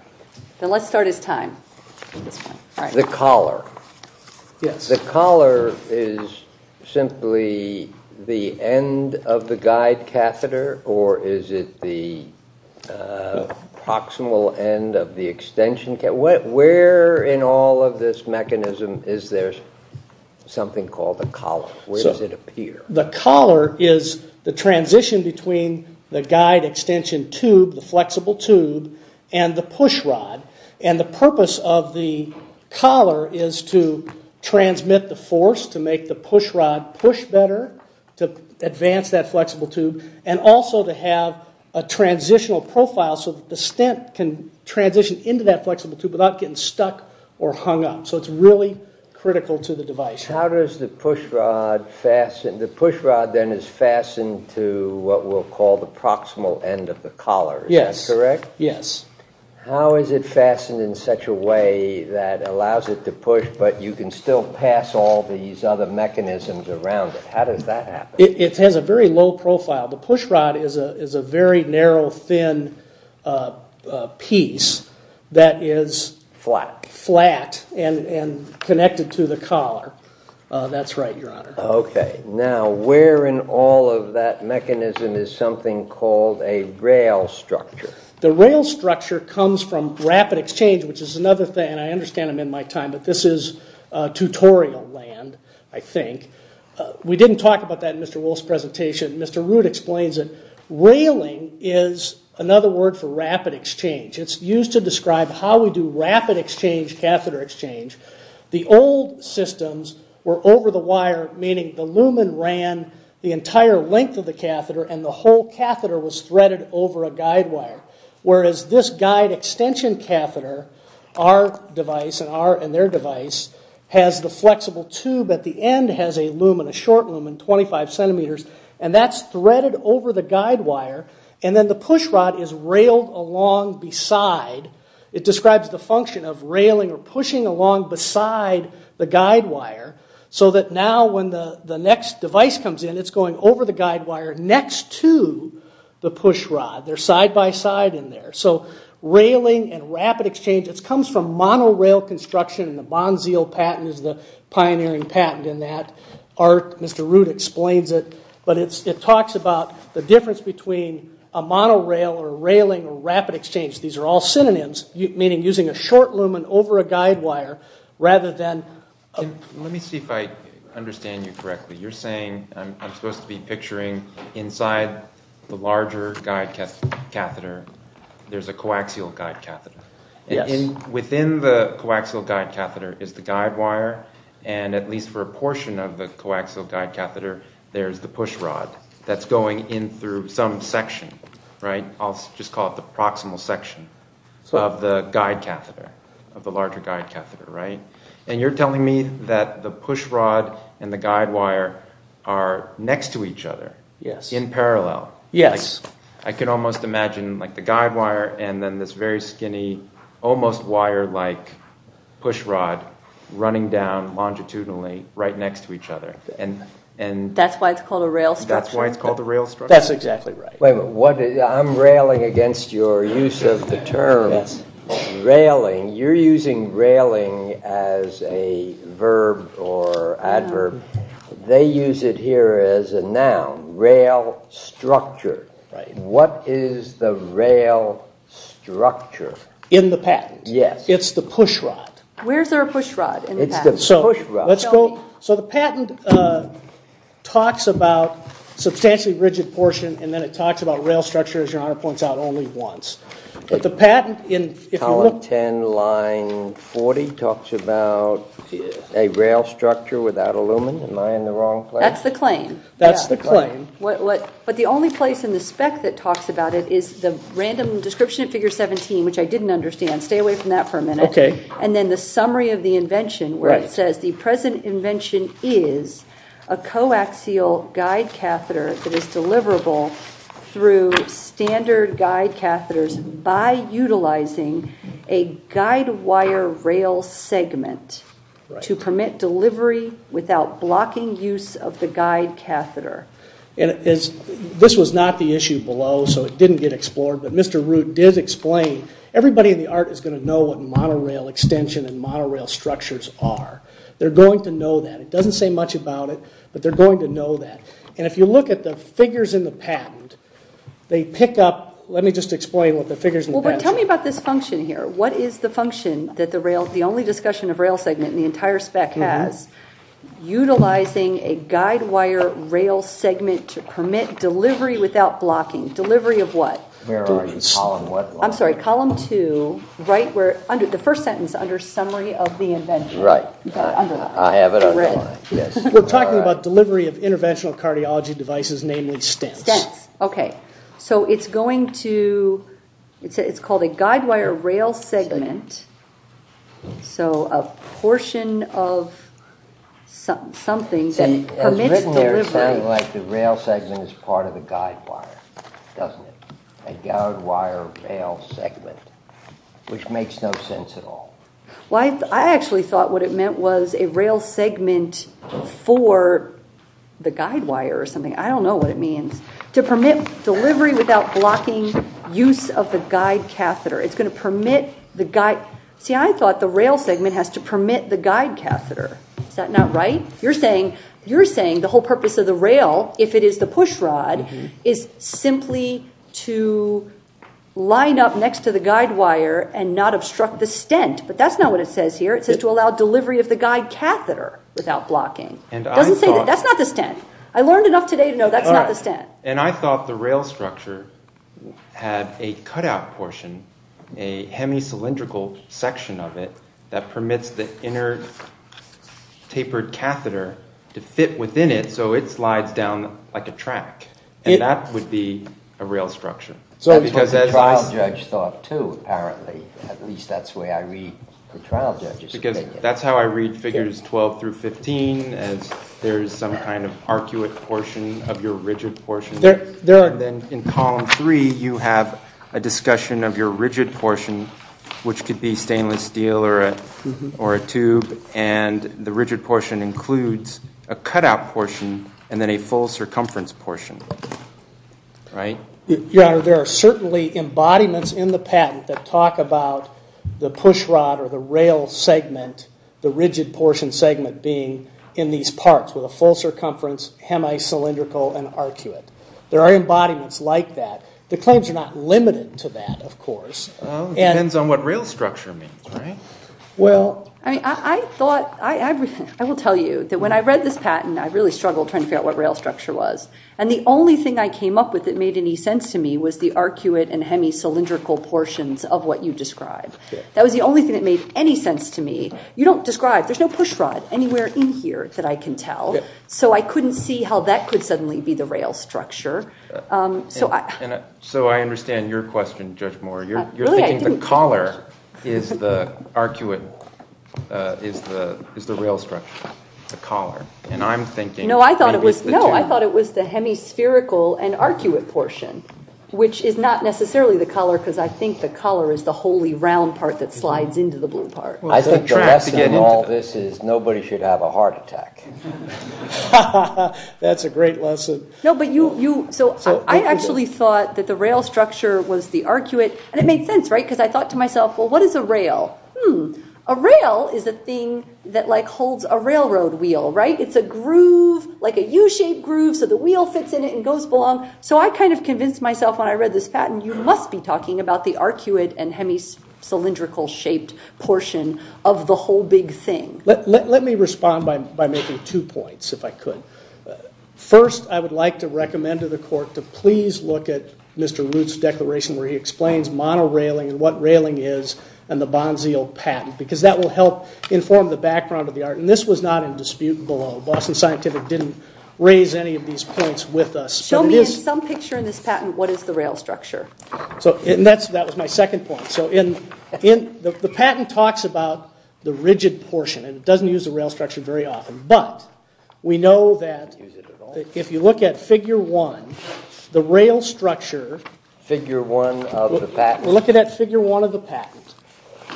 So let's start at time. The collar. Yes. The collar is simply the end of the guide catheter or is it the proximal end of the extension catheter? Where in all of this mechanism is there something called the collar? Where does it appear? The collar is the transition between the guide extension tube, the flexible tube, and the push rod. And the purpose of the collar is to transmit the force, to make the push rod push better, to advance that flexible tube, and also to have a transitional profile so that the stent can transition into that flexible tube without getting stuck or hung up. So it's really critical to the device. How does the push rod fasten? The push rod then is fastened to what we'll call the proximal end of the collar. Yes. Is that correct? Yes. How is it fastened in such a way that allows it to push, but you can still pass all these other mechanisms around it? How does that happen? The push rod is a very narrow, thin piece that is. Flat. Flat and connected to the collar. That's right, Your Honor. Okay. Now, where in all of that mechanism is something called a rail structure? The rail structure comes from rapid exchange, which is another thing, and I understand it in my time, but this is tutorial land, I think. We didn't talk about that in Mr. Woolf's presentation. Mr. Root explains it. Railing is another word for rapid exchange. It's used to describe how we do rapid exchange catheter exchange. The old systems were over the wire, meaning the lumen ran the entire length of the catheter, and the whole catheter was threaded over a guide wire, whereas this guide extension catheter, our device and their device, has the flexible tube at the end, has a lumen, a short lumen, 25 centimeters, and that's threaded over the guide wire, and then the push rod is railed along beside. It describes the function of railing or pushing along beside the guide wire, so that now when the next device comes in, it's going over the guide wire next to the push rod. They're side by side in there. So railing and rapid exchange, it comes from monorail construction, and the Bonzeal patent is the pioneering patent in that. Art, Mr. Root explains it, but it talks about the difference between a monorail or a railing or rapid exchange. These are all synonyms, meaning using a short lumen over a guide wire, rather than a... Let me see if I understand you correctly. You're saying, I'm supposed to be picturing, inside the larger guide catheter, there's a coaxial guide catheter. Within the coaxial guide catheter is the guide wire, and at least for a portion of the coaxial guide catheter, there's the push rod that's going in through some section. I'll just call it the proximal section of the guide catheter, of the larger guide catheter. And you're telling me that the push rod and the guide wire are next to each other, in parallel. Yes. I can almost imagine the guide wire and then this very skinny, almost wire-like push rod running down longitudinally right next to each other. That's why it's called a rail structure? That's why it's called a rail structure? That's exactly right. Wait a minute, I'm railing against your use of the term railing. You're using railing as a verb or adverb. They use it here as a noun, rail structure. What is the rail structure? In the patent. Yes. It's the push rod. Where's our push rod in the patent? It's the push rod. So the patent talks about substantially rigid portion and then it talks about rail structure, as your honor points out, only once. But the patent, if you look. Column 10, line 40, talks about a rail structure without aluminum, am I in the wrong place? That's the claim. That's the claim. But the only place in the spec that talks about it is the random description of figure 17, which I didn't understand. Stay away from that for a minute. And then the summary of the invention, where it says, the present invention is a coaxial guide catheter that is deliverable through standard guide catheters by utilizing a guide wire rail segment to permit delivery without blocking use of the guide catheter. This was not the issue below, so it didn't get explored. But Mr. Root did explain, everybody in the art is going to know what monorail extension and monorail structures are. They're going to know that. It doesn't say much about it, but they're going to know that. And if you look at the figures in the patent, they pick up. Let me just explain what the figures in the patent are. Well, tell me about this function here. What is the function that the only discussion of rail segment in the entire spec has? Utilizing a guide wire rail segment to permit delivery without blocking. Delivery of what? Variance. I'm sorry, column 2, the first sentence under summary of the invention. Right. I have it on the line. We're talking about delivery of interventional cardiology devices, namely stents. OK. So it's going to, it's called a guide wire rail segment. So a portion of something that permits delivery. It's written there sounding like the rail segment is part of the guide wire, doesn't it? A guide wire rail segment, which makes no sense at all. Well, I actually thought what it meant was a rail segment for the guide wire or something. I don't know what it means. To permit delivery without blocking use of the guide catheter. It's going to permit the guide. See, I thought the rail segment has to permit the guide catheter. Is that not right? You're saying the whole purpose of the rail, if it is the push rod, is simply to line up next to the guide wire and not obstruct the stent. But that's not what it says here. It says to allow delivery of the guide catheter without blocking. It doesn't say that. That's not the stent. I learned enough today to know that's not the stent. And I thought the rail structure had a cutout portion, a hemicylindrical section of it that permits the inner tapered catheter to fit within it so it slides down like a track. And that would be a rail structure. So that's what the trial judge thought too, apparently. At least that's the way I read the trial judge's figure. That's how I read figures 12 through 15 as there's some kind of arcuate portion of your rigid portion. In column three, you have a discussion of your rigid portion, which could be stainless steel or a tube. And the rigid portion includes a cutout portion and then a full circumference portion, right? There are certainly embodiments in the patent that talk about the pushrod or the rail segment, the rigid portion segment being in these parts with a full circumference, hemicylindrical, and arcuate. There are embodiments like that. The claims are not limited to that, of course. It depends on what rail structure means, right? Well, I will tell you that when I read this patent, I really struggled trying to figure out what rail structure was. And the only thing I came up with that made any sense to me was the arcuate and hemicylindrical portions of what you described. That was the only thing that made any sense to me. You don't describe. There's no pushrod anywhere in here that I can tell. So I couldn't see how that could suddenly be the rail structure. So I understand your question, Judge Moore. You're saying the collar is the arcuate, is the rail structure, the collar. And I'm thinking that it's the tail. No, I thought it was the hemispherical and arcuate portion, which is not necessarily the collar, because I think the collar is the wholly round part that slides into the blue part. I think the lesson in all this is nobody should have a heart attack. That's a great lesson. No, but you, so I actually thought that the rail structure was the arcuate. And it made sense, right? Because I thought to myself, well, what is a rail? A rail is a thing that holds a railroad wheel, right? It's a groove, like a U-shaped groove, so the wheel fits in it and goes along. So I kind of convinced myself when I read this patent, you must be talking about the arcuate and hemicylindrical shaped portion of the whole big thing. Let me respond by making two points, if I could. First, I would like to recommend to the court to please look at Mr. Root's declaration, where he explains mono-railing, what railing is, and the Bonzio patent. Because that will help inform the background of the art. And this was not in dispute below. Boston Scientific didn't raise any of these points with us. Show me in some picture in this patent, what is the rail structure. So that was my second point. So the patent talks about the rigid portion, and doesn't use the rail structure very often. But we know that if you look at figure one, the rail structure. Figure one of the patent. Look at that figure one of the patent.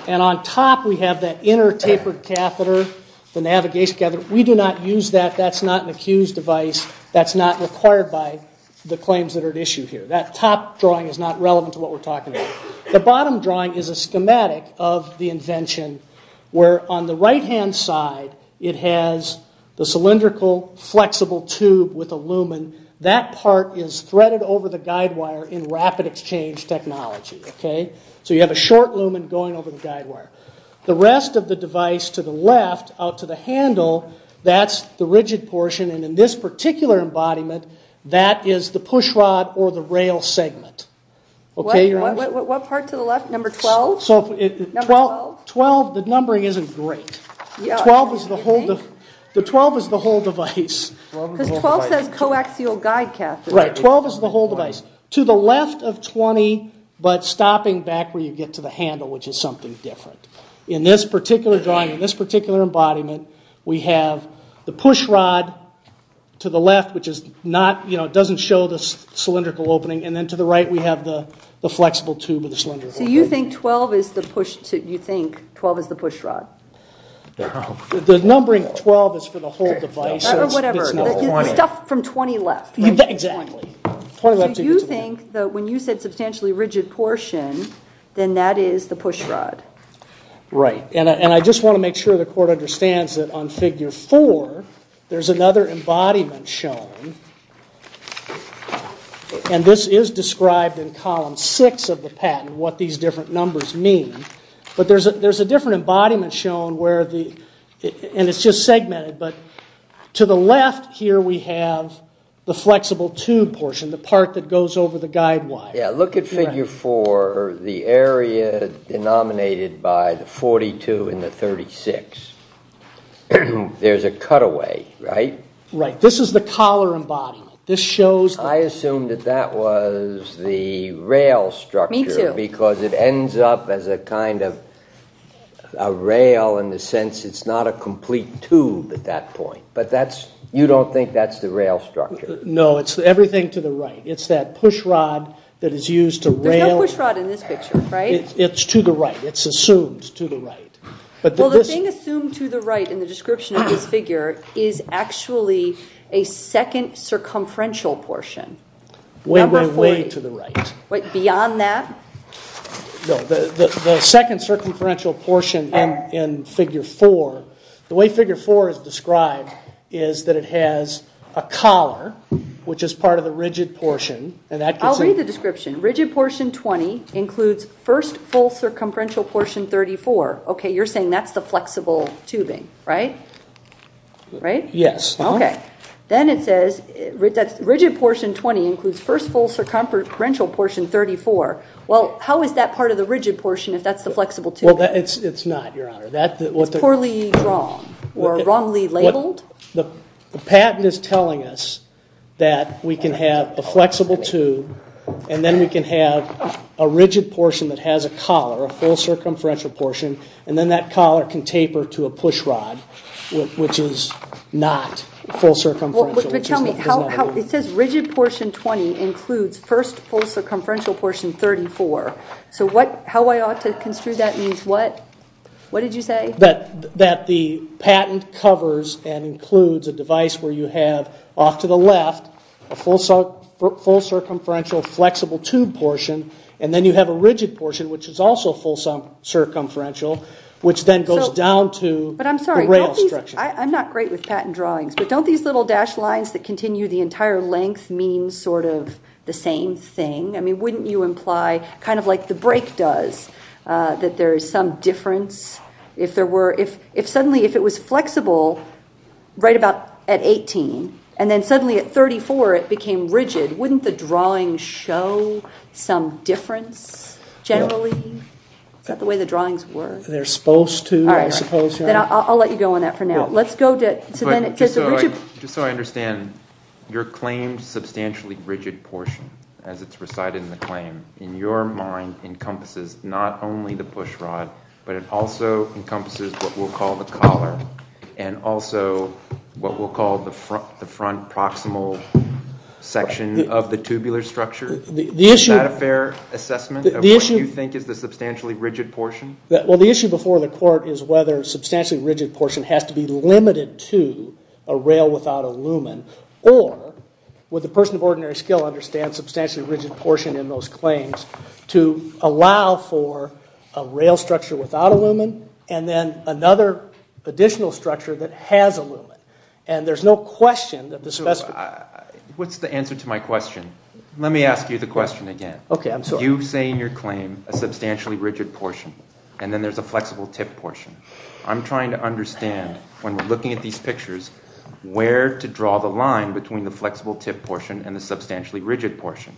And on top, we have that inner tapered catheter, the navigation catheter. We do not use that. That's not an accused device. That's not required by the claims that are issued here. That top drawing is not relevant to what we're talking about. The bottom drawing is a schematic of the invention, where on the right-hand side, it has the cylindrical flexible tube with aluminum. That part is threaded over the guide wire in rapid exchange technology. So you have a short lumen going over the guide wire. The rest of the device to the left, out to the handle, that's the rigid portion. And in this particular embodiment, that is the push rod or the rail segment. What part to the left, number 12? 12, the numbering isn't great. The 12 is the whole device. The 12 is the coaxial guide catheter. Right, 12 is the whole device. To the left of 20, but stopping back where you get to the handle, which is something different. In this particular drawing, in this particular embodiment, we have the push rod to the left, which is not, you know, it doesn't show the cylindrical opening. And then to the right, we have the flexible tube of the cylindrical opening. So you think 12 is the push rod? The numbering 12 is for the whole device. Or whatever, except from 20 left. Exactly. So you think that when you said substantially rigid portion, then that is the push rod. Right. And I just want to make sure the court understands that on figure four, there's another embodiment shown. And this is described in column six of the patent, what these different numbers mean. But there's a different embodiment shown where the, and it's just segmented. But to the left here, we have the flexible tube portion, the part that goes over the guide wire. Yeah, look at figure four. The area is denominated by the 42 and the 36. There's a cutaway, right? Right, this is the collar embodiment. This shows how. I assume that that was the rail structure. Because it ends up as a kind of a rail in the sense it's not a complete tube at that point. But you don't think that's the rail structure? No, it's everything to the right. It's that push rod that is used to rail. There's no push rod in this picture, right? It's to the right. It's assumed to the right. Well, the thing assumed to the right in the description of the figure is actually a second circumferential portion. When you're way to the right. Beyond that? No, the second circumferential portion in figure four, the way figure four is described is that it has a collar, which is part of the rigid portion. I'll read the description. Rigid portion 20 includes first full circumferential portion 34. OK, you're saying that's the flexible tubing, right? Yes. OK, then it says rigid portion 20 includes first full circumferential portion 34. Well, how is that part of the rigid portion if that's the flexible tube? Well, it's not, Your Honor. That's what they're saying. Poorly drawn, or wrongly labeled? The patent is telling us that we can have a flexible tube, and then we can have a rigid portion that has a collar, a full circumferential portion. And then that collar can taper to a push rod, which is not full circumferential, which is what the letter is. It says rigid portion 20 includes first full circumferential portion 34. So how I ought to conclude that means what? What did you say? That the patent covers and includes a device where you have off to the left a full circumferential flexible tube portion, and then you have a rigid portion, which is also full circumferential, which then goes down to the rail structure. I'm not great with patent drawings, but don't these little dashed lines that continue the entire length mean sort of the same thing? I mean, wouldn't you imply, kind of like the brake does, that there is some difference? If suddenly, if it was flexible right about at 18, and then suddenly at 34, it became rigid, wouldn't the drawing show some difference, generally? Is that the way the drawings work? They're supposed to, I suppose, Your Honor. All right, then I'll let you go on that for now. Let's go to the rigid. Just so I understand, your claim substantially rigid portion, as it's recited in the claim, in your mind encompasses not only the push rod, but it also encompasses what we'll call the collar, and also what we'll call the front proximal section of the tubular structure. Is that a fair assessment of what you think is the substantially rigid portion? Well, the issue before the court is whether a substantially rigid portion has to be limited to a rail without a lumen, or would the person of ordinary skill understand substantially rigid portion in those claims to allow for a rail structure without a lumen, and then another additional structure that has a lumen? And there's no question that the specimen. What's the answer to my question? Let me ask you the question again. OK, I'm sorry. You say in your claim a substantially rigid portion, and then there's a flexible tip portion. I'm trying to understand, when we're looking at these pictures, where to draw the line between the flexible tip portion and the substantially rigid portion.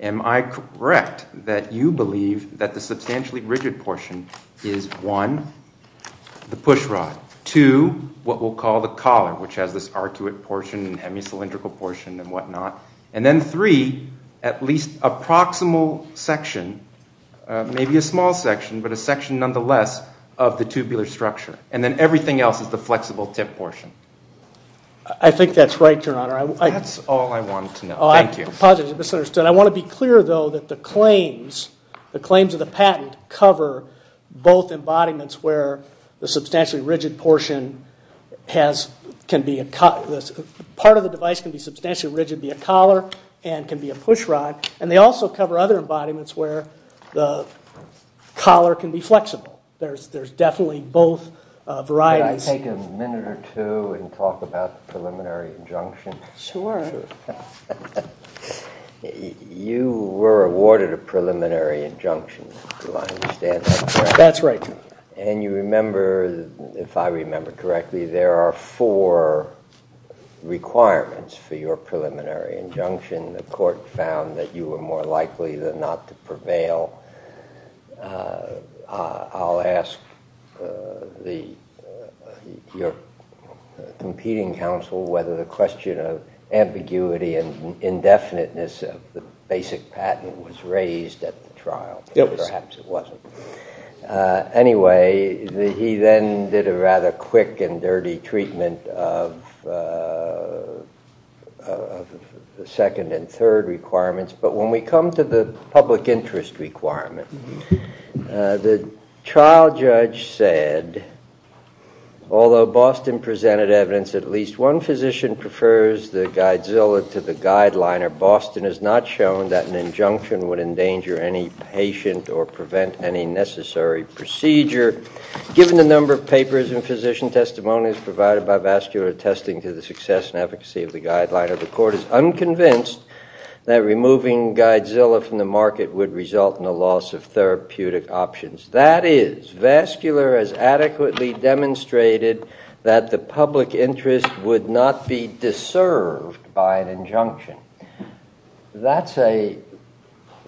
Am I correct that you believe that the substantially rigid portion is, one, the push rod, two, what we'll call the collar, which has this articulate portion and hemicylindrical portion and whatnot, and then three, at least a proximal section, maybe a small section, but a section nonetheless of the tubular structure. And then everything else is the flexible tip portion. I think that's right, Your Honor. That's all I wanted to know. Thank you. I apologize. I misunderstood. I want to be clear, though, that the claims of the patent cover both embodiments where the substantially rigid portion has can be a part of the device can be substantially rigid, be a collar, and can be a push rod. And they also cover other embodiments where the collar can be flexible. There's definitely both varieties. Can I take a minute or two and talk about the preliminary injunction? Sure. You were awarded a preliminary injunction, to my understanding. That's right. And you remember, if I remember correctly, there are four requirements for your preliminary injunction. The court found that you were more likely than not to prevail. I'll ask your competing counsel whether the question of ambiguity and indefiniteness of the basic patent was raised at the trial. Yes. Perhaps it wasn't. Anyway, he then did a rather quick and dirty treatment of the second and third requirements. But when we come to the public interest requirement, the trial judge said, although Boston presented evidence that at least one physician prefers the Guidzilla to the Guideliner, Boston has not shown that an injunction would endanger any patient or prevent any necessary procedure. Given the number of papers and physician testimonies provided by Vastu attesting to the success and efficacy of the Guideliner, the court is unconvinced that removing Guidzilla from the market would result in a loss of therapeutic options. That is, Vascular has adequately demonstrated that the public interest would not be deserved by an injunction. That's a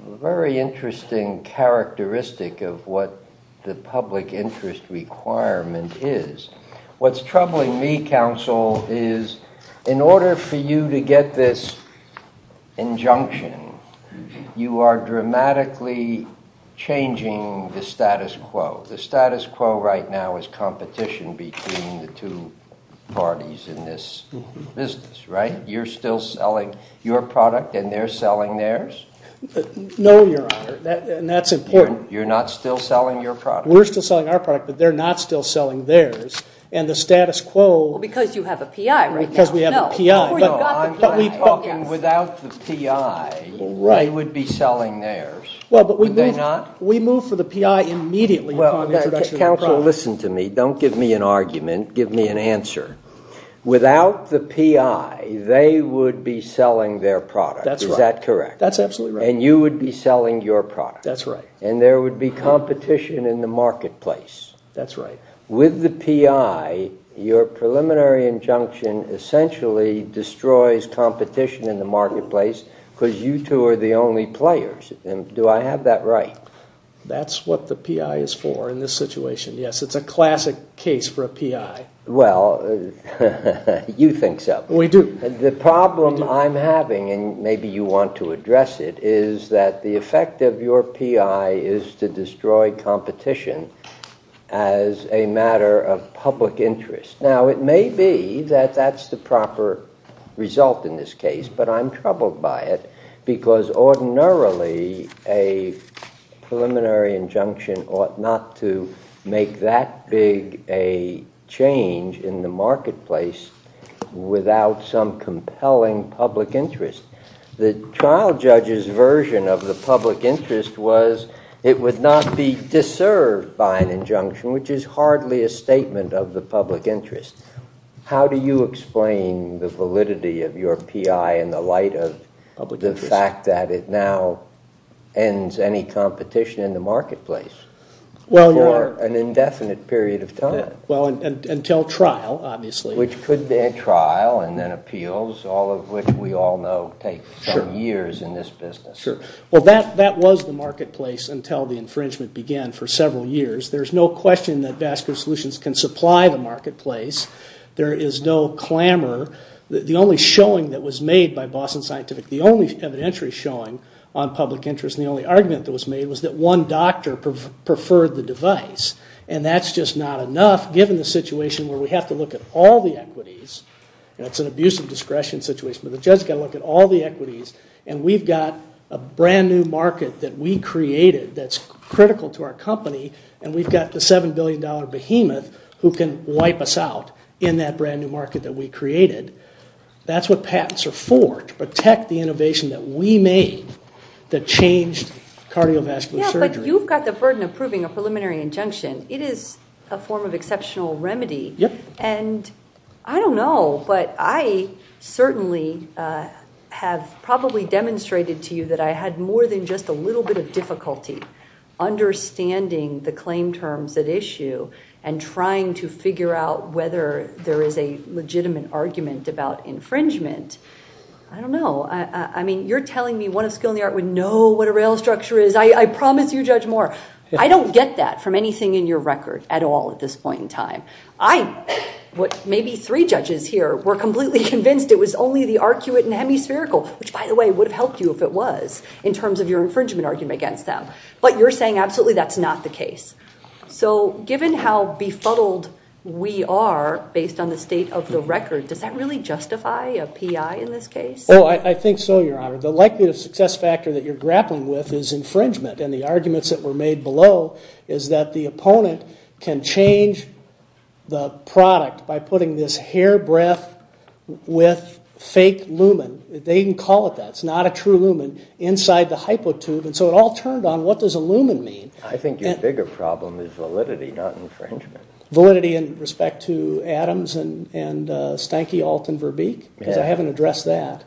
very interesting characteristic of what the public interest requirement is. What's troubling me, counsel, is in order for you to get this injunction, you are dramatically changing the status quo. The status quo right now is competition between the two parties in this business, right? You're still selling your product, and they're selling theirs? No, Your Honor, and that's important. You're not still selling your product? We're still selling our product, but they're not still selling theirs. And the status quo. Because you have a PI, right? Because we have a PI. No, no, I'm talking without the PI, they would be selling theirs. Well, but we move for the PI immediately because of the production of the product. Counsel, listen to me. Don't give me an argument. Give me an answer. Without the PI, they would be selling their product. Is that correct? That's absolutely right. And you would be selling your product. That's right. And there would be competition in the marketplace. That's right. With the PI, your preliminary injunction essentially destroys competition in the marketplace because you two are the only players. And do I have that right? That's what the PI is for in this situation, yes. It's a classic case for a PI. Well, you think so. We do. The problem I'm having, and maybe you want to address it, is that the effect of your PI is to destroy competition as a matter of public interest. Now, it may be that that's the proper result in this case, but I'm troubled by it because ordinarily a preliminary injunction ought not to make that big a change in the marketplace without some compelling public interest. The trial judge's version of the public interest was it would not be deserved by an injunction, which is hardly a statement of the public interest. How do you explain the validity of your PI in the light of the fact that it now ends any competition in the marketplace for an indefinite period of time? Well, until trial, obviously. Which could be a trial and then appeals, all of which we all know take years in this business. Sure. Well, that was the marketplace until the infringement began for several years. There's no question that Vastus Solutions can supply the marketplace. There is no clamor. The only showing that was made by Boston Scientific, the only evidentiary showing on public interest, and the only argument that was made, was that one doctor preferred the device. And that's just not enough, given the situation where we have to look at all the equities. That's an abuse of discretion situation, but the judge's got to look at all the equities. And we've got a brand new market that we created that's critical to our company. And we've got the $7 billion behemoth who can wipe us out in that brand new market that we created. That's what patents are for, to protect the innovation that we made to change cardiovascular surgery. Yeah, but you've got the burden of proving a preliminary injunction. It is a form of exceptional remedy. And I don't know, but I certainly have probably demonstrated to you that I had more than just a little bit of difficulty understanding the claim terms at issue, and trying to figure out whether there is a legitimate argument about infringement. I don't know, I mean, you're telling me what a skill in the art would know what a rail structure is. I promise you judge more. I don't get that from anything in your record at all at this point in time. Maybe three judges here were completely convinced it was only the arcuate and hemispherical, which by the way, would have helped you if it was, in terms of your infringement argument against them. But you're saying absolutely that's not the case. So given how befuddled we are based on the state of the record, does that really justify a PI in this case? Oh, I think so, Your Honor. But likely the success factor that you're grappling with is infringement. And the arguments that were made below is that the opponent can change the product by putting this hair breath with fake lumen, they can call it that, it's not a true lumen, inside the hypotube. And so it all turned on, what does a lumen mean? I think your bigger problem is validity, not infringement. Validity in respect to Adams and Stanky Alt and Verbeek? Because I haven't addressed that.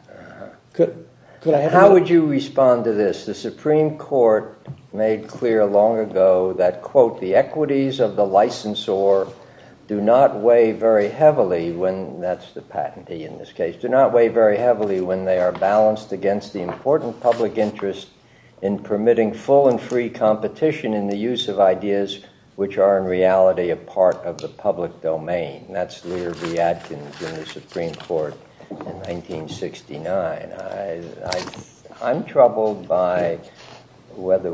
How would you respond to this? The Supreme Court made clear long ago that, quote, the equities of the licensor do not weigh very heavily when, that's the patentee in this case, do not weigh very heavily when they are balanced against the important public interest in permitting full and free competition in the use of ideas which are in reality a part of the public domain. That's Leader Lee Adkins in the Supreme Court in 1969. I'm troubled by whether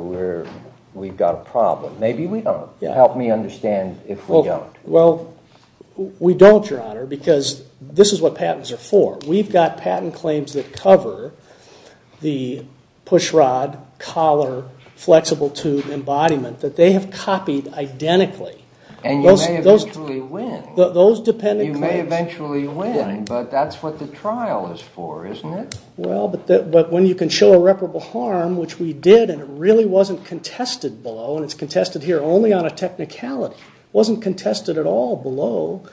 we've got a problem. Maybe we don't. Help me understand if we don't. Well, we don't, Your Honor, because this is what patents are for. We've got patent claims that cover the pushrod, collar, flexible tube embodiment that they have copied identically. And you may eventually win. Those dependent claims. You may eventually win, but that's what the trial is for, isn't it? Well, but when you can show irreparable harm, which we did, and it really wasn't contested below, and it's contested here only on a technicality, wasn't contested at all below,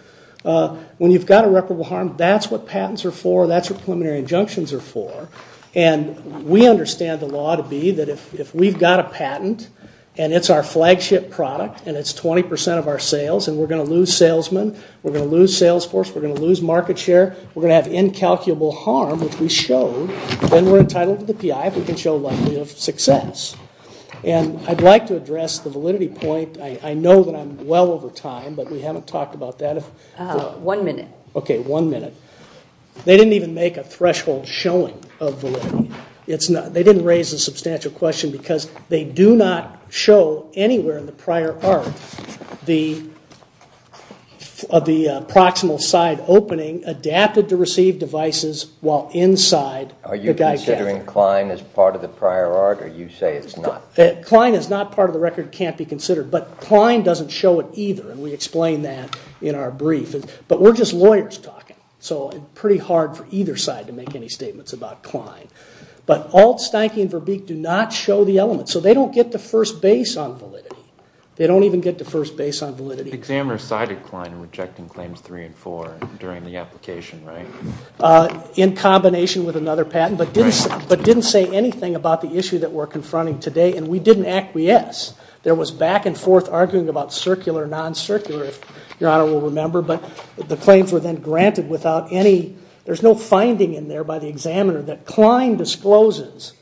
when you've got irreparable harm, that's what patents are for. That's what preliminary injunctions are for. And we understand the law to be that if we've got a patent, and it's our flagship product, and it's 20% of our sales, and we're going to lose salesmen, we're going to lose sales force, we're going to lose market share, we're going to have incalculable harm, which we showed. When we're entitled to the PI, we can show a level of success. And I'd like to address the validity point. I know that I'm well over time, but we haven't talked about that. One minute. OK, one minute. They didn't even make a threshold showing of validity. They didn't raise a substantial question, because they do not show anywhere in the prior art of the proximal side opening adapted to receive devices while inside the die-cast. Are you considering Klein as part of the prior art, or you say it's not? Klein is not part of the record. It can't be considered. But Klein doesn't show it either, and we explain that in our brief. But we're just lawyers talking. So it's pretty hard for either side to make any statements about Klein. But Altsteinke and Verbeek do not show the element. So they don't get the first base on validity. They don't even get the first base on validity. The examiner cited Klein in rejecting claims three and four during the application, right? In combination with another patent, but didn't say anything about the issue that we're confronting today. And we didn't acquiesce. There was back and forth arguing about circular, non-circular, if Your Honor will remember. But the claims were then granted without any, there's no finding in there by the examiner that Klein discloses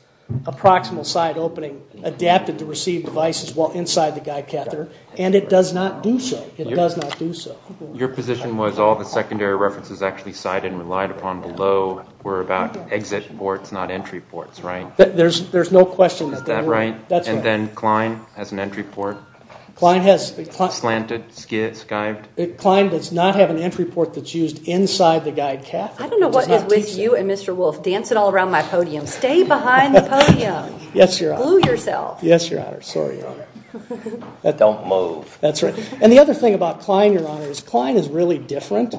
a proximal side opening adapted to receive devices while inside the die-caster. And it does not do so. It does not do so. Your position was all the secondary references actually cited and relied upon below were about exit ports, not entry ports, right? There's no question that there is. Is that right? And then Klein as an entry port? Klein has planted, skived. Klein does not have an entry port that's used inside the die-caster. I don't know what makes you and Mr. Wolf dancing all around my podium. Stay behind the podium. Yes, Your Honor. Move yourself. Yes, Your Honor. Sorry, Your Honor. Don't move. That's right. And the other thing about Klein, Your Honor, is Klein is really different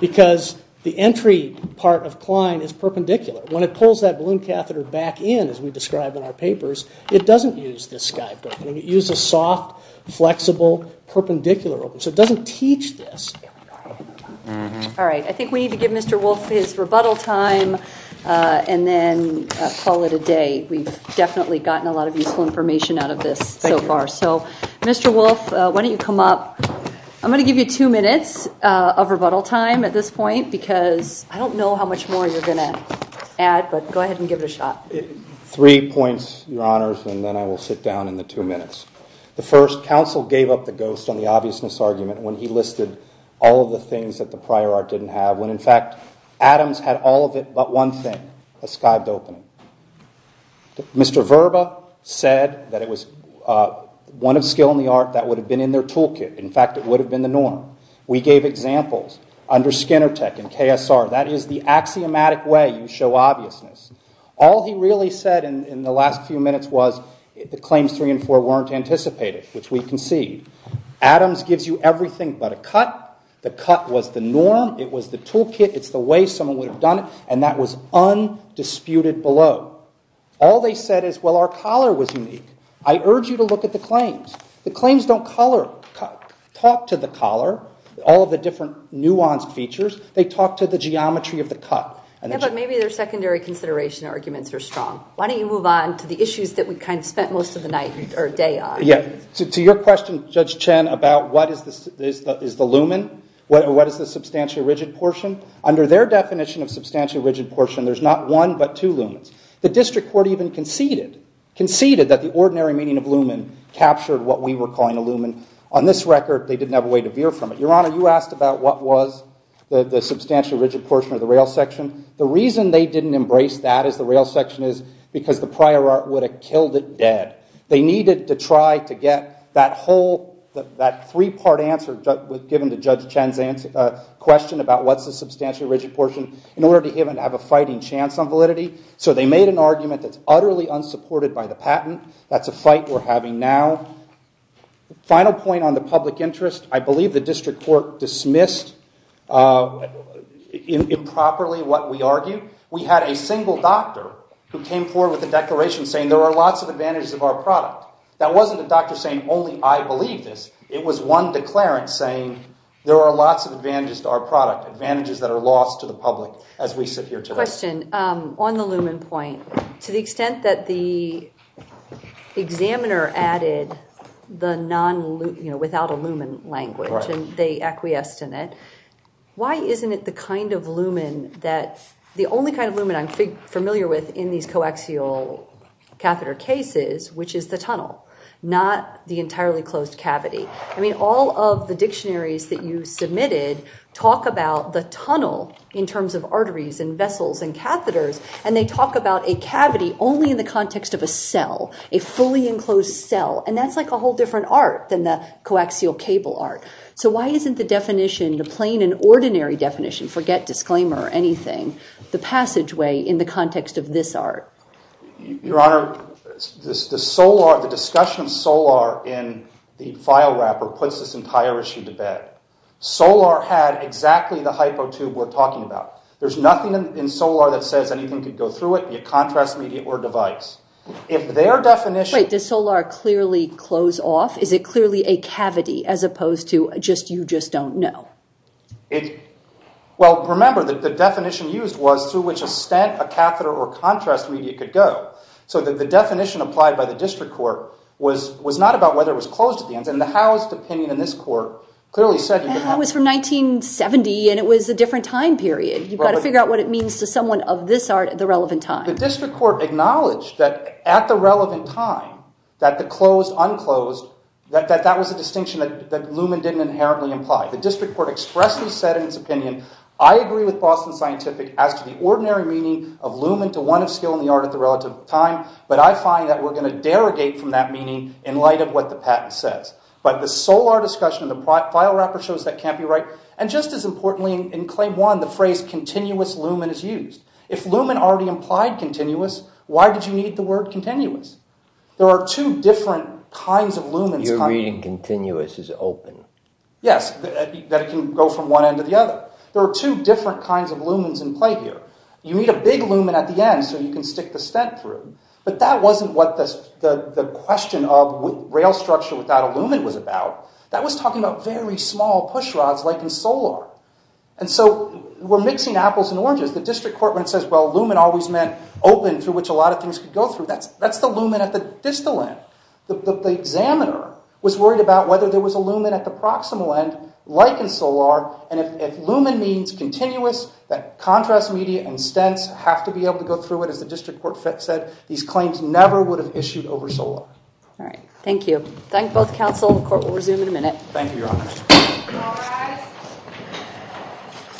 because the entry part of Klein is perpendicular. When it pulls that balloon catheter back in, as we described in our papers, it doesn't use the skive. It uses a soft, flexible, perpendicular opening. So it doesn't teach this. All right. I think we need to give Mr. Wolf his rebuttal time and then call it a day. We've definitely gotten a lot of useful information out of this so far. So Mr. Wolf, why don't you come up? I'm going to give you two minutes of rebuttal time at this point because I don't know how much more you're going to add, but go ahead and give it a shot. Three points, Your Honors, and then I will sit down in the two minutes. The first, counsel gave up the ghost on the obviousness argument when he listed all of the things that the prior art didn't have, when, in fact, Adams had all of it but one thing, a skived opening. Mr. Verba said that it was one of skill in the art that would have been in their toolkit. In fact, it would have been the norm. We gave examples under Skinner Tech and KSR. That is the axiomatic way you show obviousness. All he really said in the last few minutes was the claims three and four weren't anticipated, which we can see. Adams gives you everything but a cut. The cut was the norm. It was the toolkit. It's the way someone would have done it, and that was undisputed below. All they said is, well, our collar was unique. I urge you to look at the claims. The claims don't talk to the collar, all of the different nuanced features. They talk to the geometry of the cut. But maybe their secondary consideration arguments are strong. Why don't you move on to the issues that we spent most of the night or day on? Yes. To your question, Judge Chen, about what is the lumen, what is the substantially rigid portion, under their definition of substantially rigid portion, there's not one but two lumens. The district court even conceded that the ordinary meaning of lumen captured what we were calling a lumen. On this record, they didn't have a way to veer from it. Your Honor, you asked about what was the substantially rigid portion of the rail section. The reason they didn't embrace that at the rail section is because the prior art would have killed it dead. They needed to try to get that three-part answer that was given to Judge Chen's question about what's the substantially rigid portion in order to give them to have a fighting chance on validity. So they made an argument that's utterly unsupported by the patent. That's a fight we're having now. Final point on the public interest. I believe the district court dismissed improperly what we argued. We had a single doctor who came forward with a declaration saying there are lots of advantages of our product. That wasn't a doctor saying only I believe this. It was one declarant saying there are lots of advantages to our product, advantages that are lost to the public as we sit here today. Question. On the lumen point, to the extent that the examiner added the non-lumen, without a lumen language, and they acquiesced in it, why isn't it the only kind of lumen I'm familiar with in these coaxial catheter cases, which is the tunnel, not the entirely closed cavity? I mean, all of the dictionaries that you submitted talk about the tunnel in terms of arteries and vessels and catheters. And they talk about a cavity only in the context of a cell, a fully enclosed cell. And that's like a whole different art than the coaxial cable art. So why isn't the definition, the plain and ordinary definition, forget disclaimer or anything, the passageway in the context of this art? Your Honor, the discussion of solar in the file wrapper puts this entire issue to bed. Solar had exactly the hypo tube we're talking about. There's nothing in solar that says anything could go through it. In contrast, it were device. If their definition of solar clearly closed off, is it clearly a cavity, as opposed to you just don't know? Well, remember, the definition used was to which extent a catheter or contrast media could go. So the definition applied by the district court was not about whether it was closed again. And the housed opinion in this court clearly said that. That was from 1970. And it was a different time period. You've got to figure out what it means to someone of this art at the relevant time. The district court acknowledged that at the relevant time, that the closed-unclosed, that that was a distinction that Luhmann didn't inherently imply. The district court expressly said in its opinion, I agree with Faust and Scientific as to the ordinary meaning of Luhmann to want to steal in the art at the relative time. But I find that we're going to derogate from that meaning in light of what the patent says. But the solar discussion in the file wrapper shows that can't be right. And just as importantly, in claim one, the phrase continuous Luhmann is used. If Luhmann already implied continuous, why did you need the word continuous? There are two different kinds of Luhmann. You're reading continuous as open. Yes, that can go from one end to the other. There are two different kinds of Luhmanns in play here. You need a big Luhmann at the end so you can stick the stent through. But that wasn't what the question of rail structure without a Luhmann was about. That was talking about very small pushrods like in solar. And so we're mixing apples and oranges. The district court says, well, Luhmann always meant open through which a lot of things could go through. That's the Luhmann at the distal end. The examiner was worried about whether there was a Luhmann at the proximal end like in solar. And if Luhmann means continuous, that contrast media and stents have to be able to go through it, as the district court said. These claims never would have issued over solar. Thank you. Thanks, both counsel and the court. We'll resume in a minute. Thank you, Your Honor.